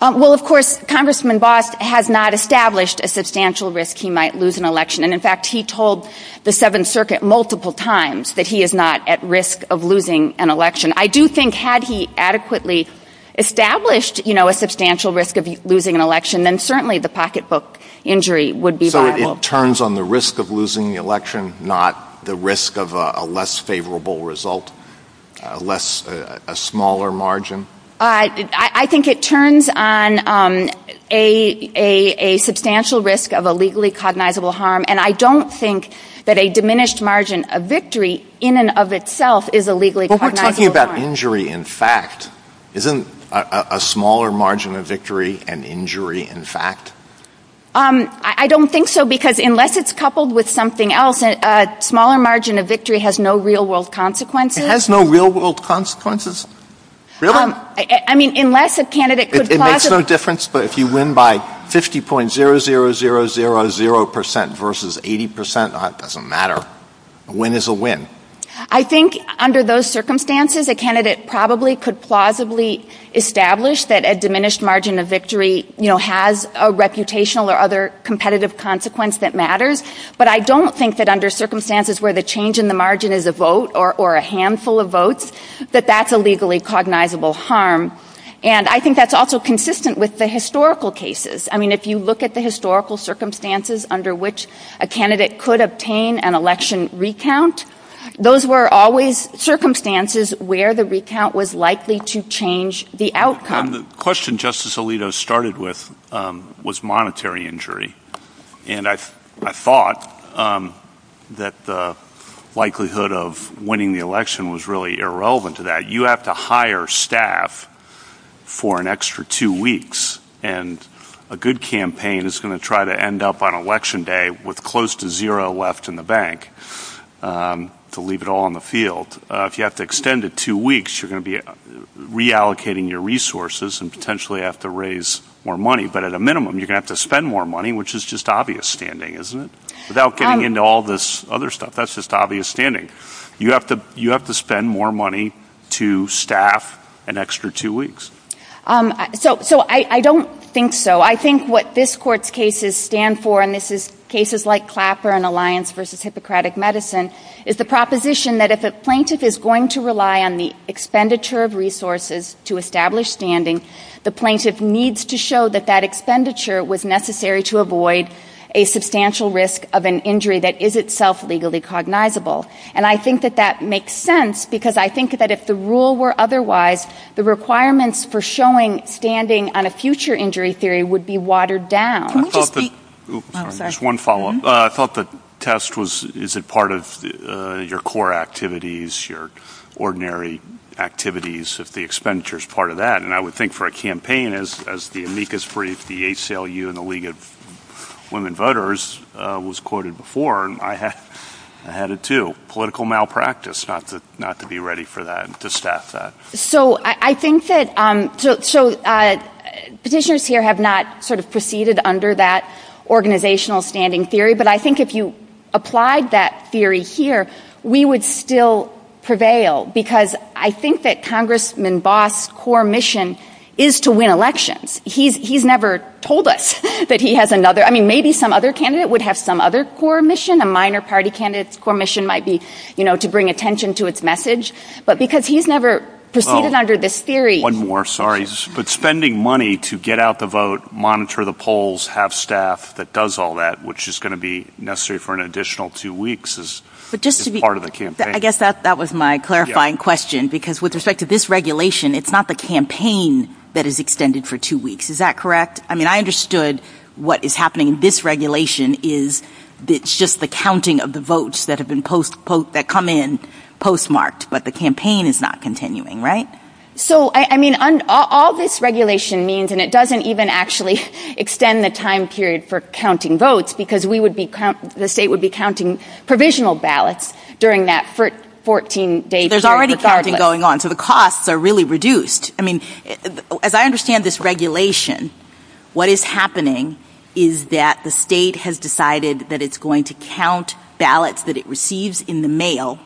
Well, of course, Congressman Boss has not established a substantial risk. He might lose an election. And in fact, he told the Seventh Circuit multiple times that he is not at risk of losing an election. I do think had he adequately established a substantial risk of losing an election, then certainly the pocketbook injury would be. So it turns on the risk of losing the election, not the risk of a less favorable result, less a smaller margin. I think it turns on a substantial risk of a legally cognizable harm. And I don't think that a diminished margin of victory in and of itself is a legally cognizable harm. We're talking about injury in fact. Isn't a smaller margin of victory an injury in fact? I don't think so, because unless it's coupled with something else, a smaller margin of victory has no real world consequences. It has no real world consequences? I mean, unless a candidate could. It makes no difference, but if you win by 50.0000000 percent versus 80 percent, it doesn't matter. A win is a win. I think under those circumstances, a candidate probably could plausibly establish that a diminished margin of victory has a reputational or other competitive consequence that matters. But I don't think that under circumstances where the change in the margin is a vote or a handful of votes, that that's a legally cognizable harm. And I think that's also consistent with the historical cases. I mean, if you look at the historical circumstances under which a candidate could obtain an election recount, those were always circumstances where the recount was likely to change the outcome. The question Justice Alito started with was monetary injury. And I thought that the likelihood of winning the election was really irrelevant to that. You have to hire staff for an extra two weeks and a good campaign is going to try to end up on election day with close to zero left in the bank to leave it all on the field. If you have to extend it two weeks, you're going to be reallocating your resources and potentially have to raise more money. But at a minimum, you have to spend more money, which is just obvious standing, isn't it? Without getting into all this other stuff, that's just obvious standing. You have to you have to spend more money to staff an extra two weeks. So so I don't think so. I think what this court's cases stand for, and this is cases like Clapper and Alliance versus Hippocratic Medicine, is the proposition that if a plaintiff is going to rely on the expenditure of resources to establish standing, the plaintiff needs to show that that expenditure was necessary to avoid a substantial risk of an injury that is itself legally cognizable. And I think that that makes sense, because I think that if the rule were otherwise, the requirements for showing standing on a future injury theory would be watered down. One follow up. I thought the test was, is it part of your core activities, your ordinary activities, if the expenditure is part of that? And I would think for a campaign as the amicus brief, the ACLU and the League of Women had a two political malpractice, not to not to be ready for that and to staff that. So I think that so petitioners here have not sort of proceeded under that organizational standing theory. But I think if you applied that theory here, we would still prevail because I think that Congressman Boss' core mission is to win elections. He's never told us that he has another. I mean, maybe some other candidate would have some other core mission, a minor party candidate's core mission might be, you know, to bring attention to his message, but because he's never proceeded under this theory. One more. Sorry, but spending money to get out the vote, monitor the polls, have staff that does all that, which is going to be necessary for an additional two weeks is just to be part of the campaign. I guess that that was my clarifying question, because with respect to this regulation, it's not the campaign that is extended for two weeks. Is that correct? I mean, I understood what is happening. This regulation is just the counting of the votes that have been postponed, that come in postmarked, but the campaign is not continuing. Right. So, I mean, all this regulation means and it doesn't even actually extend the time period for counting votes because we would be the state would be counting provisional ballots during that for 14 days. There's already something going on. So the costs are really reduced. I mean, as I understand this regulation, what is happening is that the state has decided that it's going to count ballots that it receives in the mail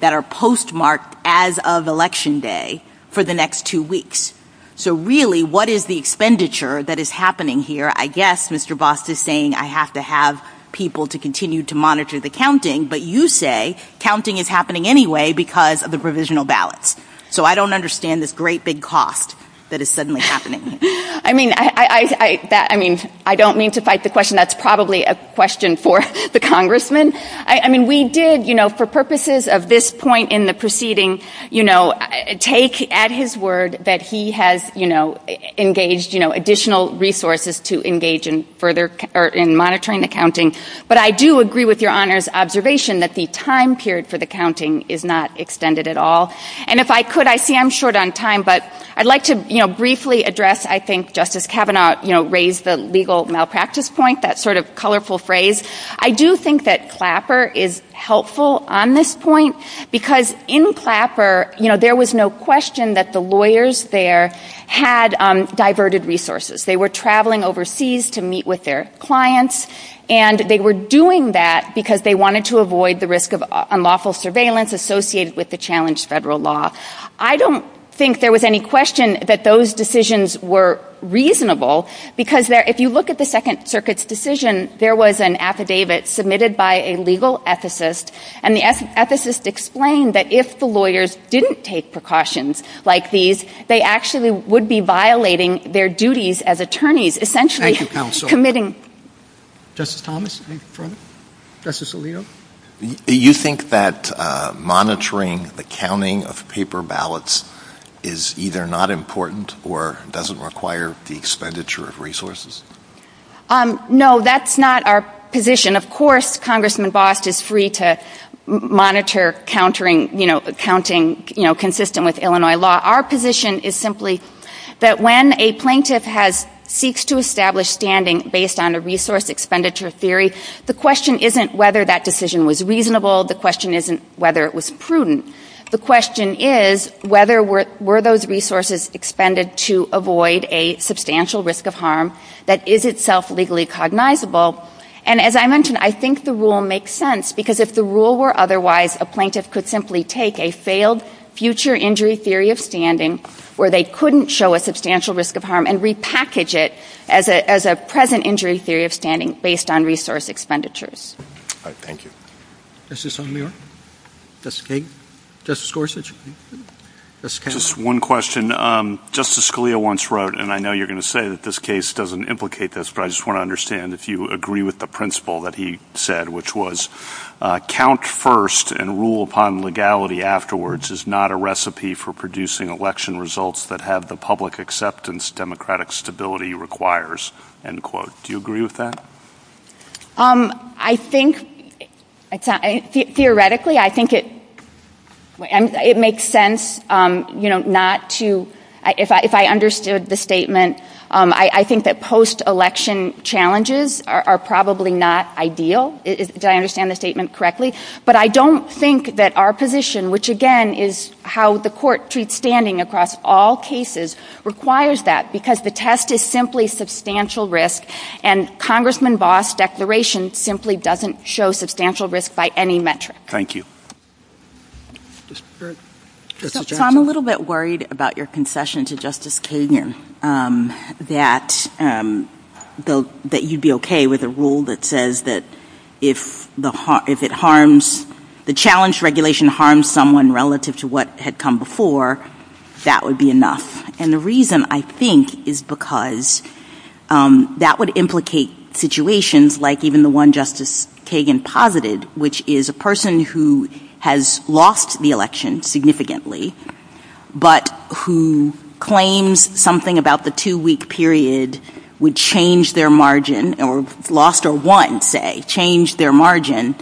that are postmarked as of Election Day for the next two weeks. So really, what is the expenditure that is happening here? I guess Mr. Boss is saying I have to have people to continue to monitor the counting. But you say counting is happening anyway because of the provisional ballots. So I don't understand this great big cost that is suddenly happening. I mean, I mean, I don't mean to fight the question. That's probably a question for the congressman. I mean, we did, you know, for purposes of this point in the proceeding, you know, take at his word that he has, you know, engaged, you know, additional resources to engage in further in monitoring the counting. But I do agree with your honors observation that the time period for the counting is not extended at all. And if I could, I see I'm short on time, but I'd like to, you know, briefly address, I think Justice Kavanaugh, you know, raised the legal malpractice point, that sort of colorful phrase. I do think that Clapper is helpful on this point because in Clapper, you know, there was no question that the lawyers there had diverted resources. They were traveling overseas to meet with their clients and they were doing that because they wanted to avoid the risk of unlawful surveillance associated with the challenged federal law. I don't think there was any question that those decisions were reasonable because if you look at the Second Circuit's decision, there was an affidavit submitted by a legal ethicist and the ethicist explained that if the lawyers didn't take precautions like these, they actually would be violating their duties as attorneys, essentially committing. Justice Thomas, Justice Alito. Do you think that monitoring the counting of paper ballots is either not important or doesn't require the expenditure of resources? No, that's not our position. Of course, Congressman Bost is free to monitor countering, you know, counting, you know, consistent with Illinois law. Our position is simply that when a plaintiff has seeks to establish standing based on a resource expenditure theory, the question isn't whether that decision was reasonable. The question isn't whether it was prudent. The question is whether were those resources expended to avoid a substantial risk of harm that is itself legally cognizable. And as I mentioned, I think the rule makes sense because if the rule were otherwise, a plaintiff could simply take a failed future injury theory of standing where they couldn't show a substantial risk of harm and repackage it as a present injury theory of standing based on resource expenditures. Thank you. Justice O'Neill, Justice King, Justice Gorsuch. Just one question. Justice Scalia once wrote, and I know you're going to say that this case doesn't implicate this, but I just want to understand if you agree with the principle that he said, which was count first and rule upon legality afterwards is not a recipe for producing election results that have the public acceptance democratic stability requires, end quote. Do you agree with that? I think, theoretically, I think it makes sense, you know, not to, if I understood the statement, I think that post-election challenges are probably not ideal. Did I understand the statement correctly? But I don't think that our position, which again, is how the court treats standing across all cases requires that because the test is simply substantial risk and Congressman Voss declaration simply doesn't show substantial risk by any metric. Thank you. I'm a little bit worried about your concession to Justice Kagan, that you'd be okay with a rule that says that if the, if it harms the challenge, regulation harms someone relative to what had come before, that would be enough. And the reason I think is because that would implicate situations like even the one Justice Kagan posited, which is a person who has lost the election significantly, but who claims something about the two week period would change their margin or lost or won, say, change their margin,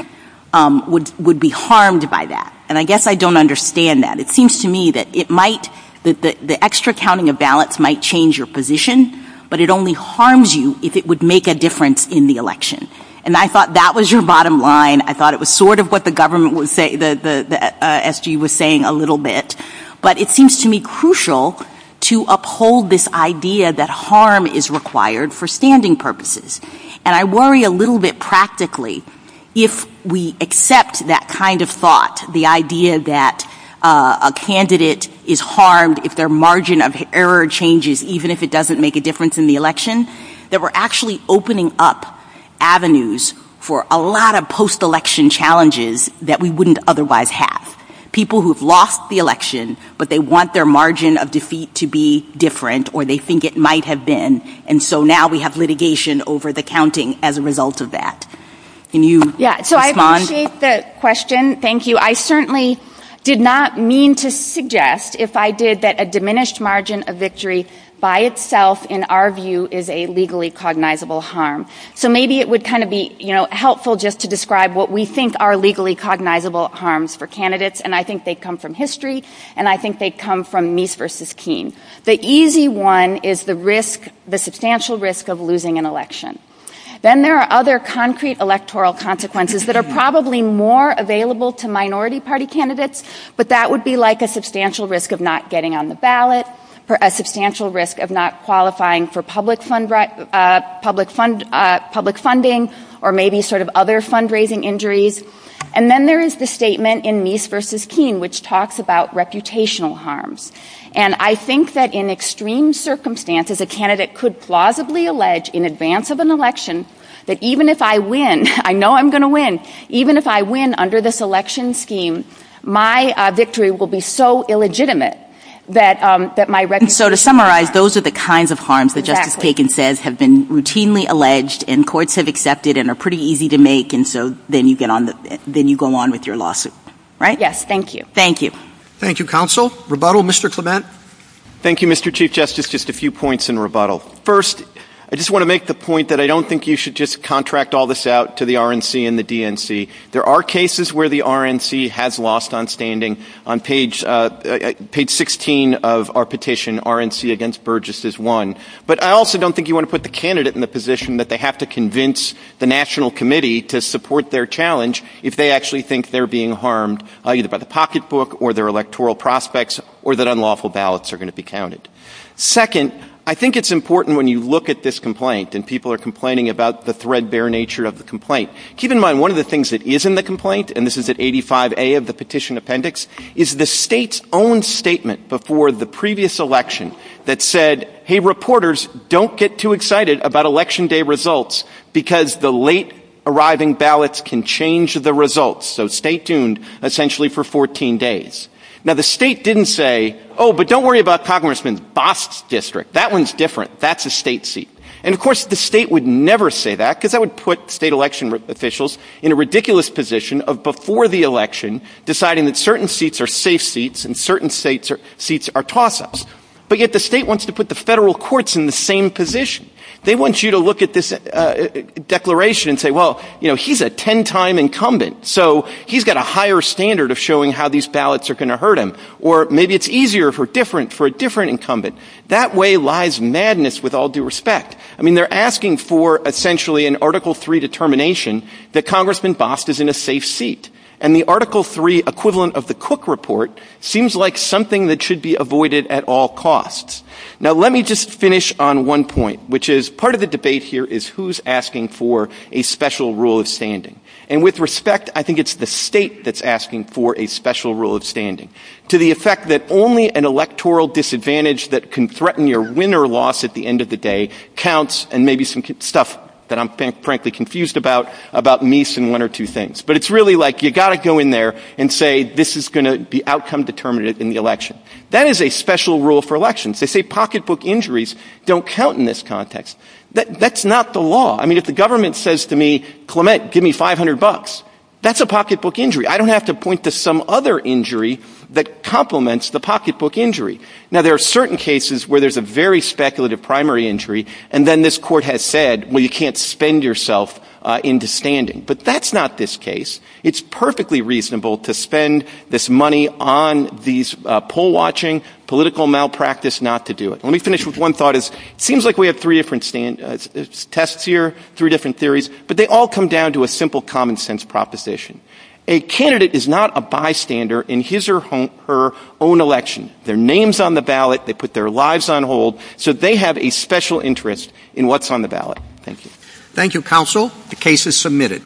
would be harmed by that. And I guess I don't understand that. It seems to me that it might, that the extra counting of balance might change your position, but it only harms you if it would make a difference in the election. And I thought that was your bottom line. I thought it was sort of what the government would say, the SG was saying a little bit, but it seems to me crucial to uphold this idea that harm is required for standing purposes. And I worry a little bit practically, if we accept that kind of thought, the idea that a candidate is harmed if their margin of error changes, even if it doesn't make a difference in the election, that we're actually opening up avenues for a lot of election challenges that we wouldn't otherwise have. People who have lost the election, but they want their margin of defeat to be different or they think it might have been. And so now we have litigation over the counting as a result of that. Can you respond? I appreciate the question. Thank you. I certainly did not mean to suggest, if I did, that a diminished margin of victory by itself, in our view, is a legally cognizable harm. So maybe it would kind of be helpful just to describe what we think are legally cognizable harms for candidates. And I think they come from history and I think they come from Meese versus Keene. The easy one is the risk, the substantial risk of losing an election. Then there are other concrete electoral consequences that are probably more available to minority party candidates. But that would be like a substantial risk of not getting on the ballot or a substantial risk of not qualifying for public funding or maybe sort of other fundraising injuries. And then there is the statement in Meese versus Keene, which talks about reputational harms. And I think that in extreme circumstances, a candidate could plausibly allege in advance of an election that even if I win, I know I'm going to win. Even if I win under this election scheme, my victory will be so illegitimate that my So to summarize, those are the kinds of harms that Justice Kagan says have been routinely alleged and courts have accepted and are pretty easy to make. And so then you get on the then you go on with your lawsuit. Right. Yes. Thank you. Thank you. Thank you, counsel. Rebuttal, Mr. Clement. Thank you, Mr. Chief Justice. Just a few points in rebuttal. First, I just want to make the point that I don't think you should just contract all this out to the RNC and the DNC. There are cases where the RNC has lost on standing on page 16 of our petition, RNC against Burgess is one. But I also don't think you want to put the candidate in the position that they have to convince the National Committee to support their challenge if they actually think they're being harmed either by the pocketbook or their electoral prospects or that unlawful ballots are going to be counted. Second, I think it's important when you look at this complaint and people are complaining about the threadbare nature of the complaint. Keep in mind, one of the things that is in the complaint and this is at 85 of the petition appendix is the state's own statement before the previous election that said, hey, reporters, don't get too excited about election day results because the late arriving ballots can change the results. So stay tuned, essentially, for 14 days. Now, the state didn't say, oh, but don't worry about Congressman Bost's district. That one's different. That's a state seat. And of course, the state would never say that because that would put state election officials in a ridiculous position of before the election deciding that certain seats are safe seats and certain states or seats are toss ups. But yet the state wants to put the federal courts in the same position. They want you to look at this declaration and say, well, you know, he's a 10 time incumbent, so he's got a higher standard of showing how these ballots are going to hurt him. Or maybe it's easier for different for a different incumbent. That way lies madness with all due respect. I mean, they're asking for essentially an Article three determination that Congressman Bost is in a safe seat. And the Article three equivalent of the Cook report seems like something that should be avoided at all costs. Now, let me just finish on one point, which is part of the debate here is who's asking for a special rule of standing. And with respect, I think it's the state that's asking for a special rule of standing to the effect that only an electoral disadvantage that can threaten your win or loss at the end of the day counts. And maybe some stuff that I'm frankly confused about about nice and one or two things. But it's really like you got to go in there and say this is going to be outcome determinative in the election. That is a special rule for elections. They say pocketbook injuries don't count in this context. That's not the law. I mean, if the government says to me, Clement, give me five hundred bucks, that's a pocketbook injury. I don't have to point to some other injury. That complements the pocketbook injury. Now, there are certain cases where there's a very speculative primary injury. And then this court has said, well, you can't spend yourself in standing. But that's not this case. It's perfectly reasonable to spend this money on these poll watching political malpractice not to do it. Let me finish with one thought is seems like we have three different tests here, three different theories, but they all come down to a simple common sense proposition. A candidate is not a bystander in his or her own election. Their name's on the ballot. They put their lives on hold so they have a special interest in what's on the ballot. Thank you. Thank you, counsel. The case is submitted.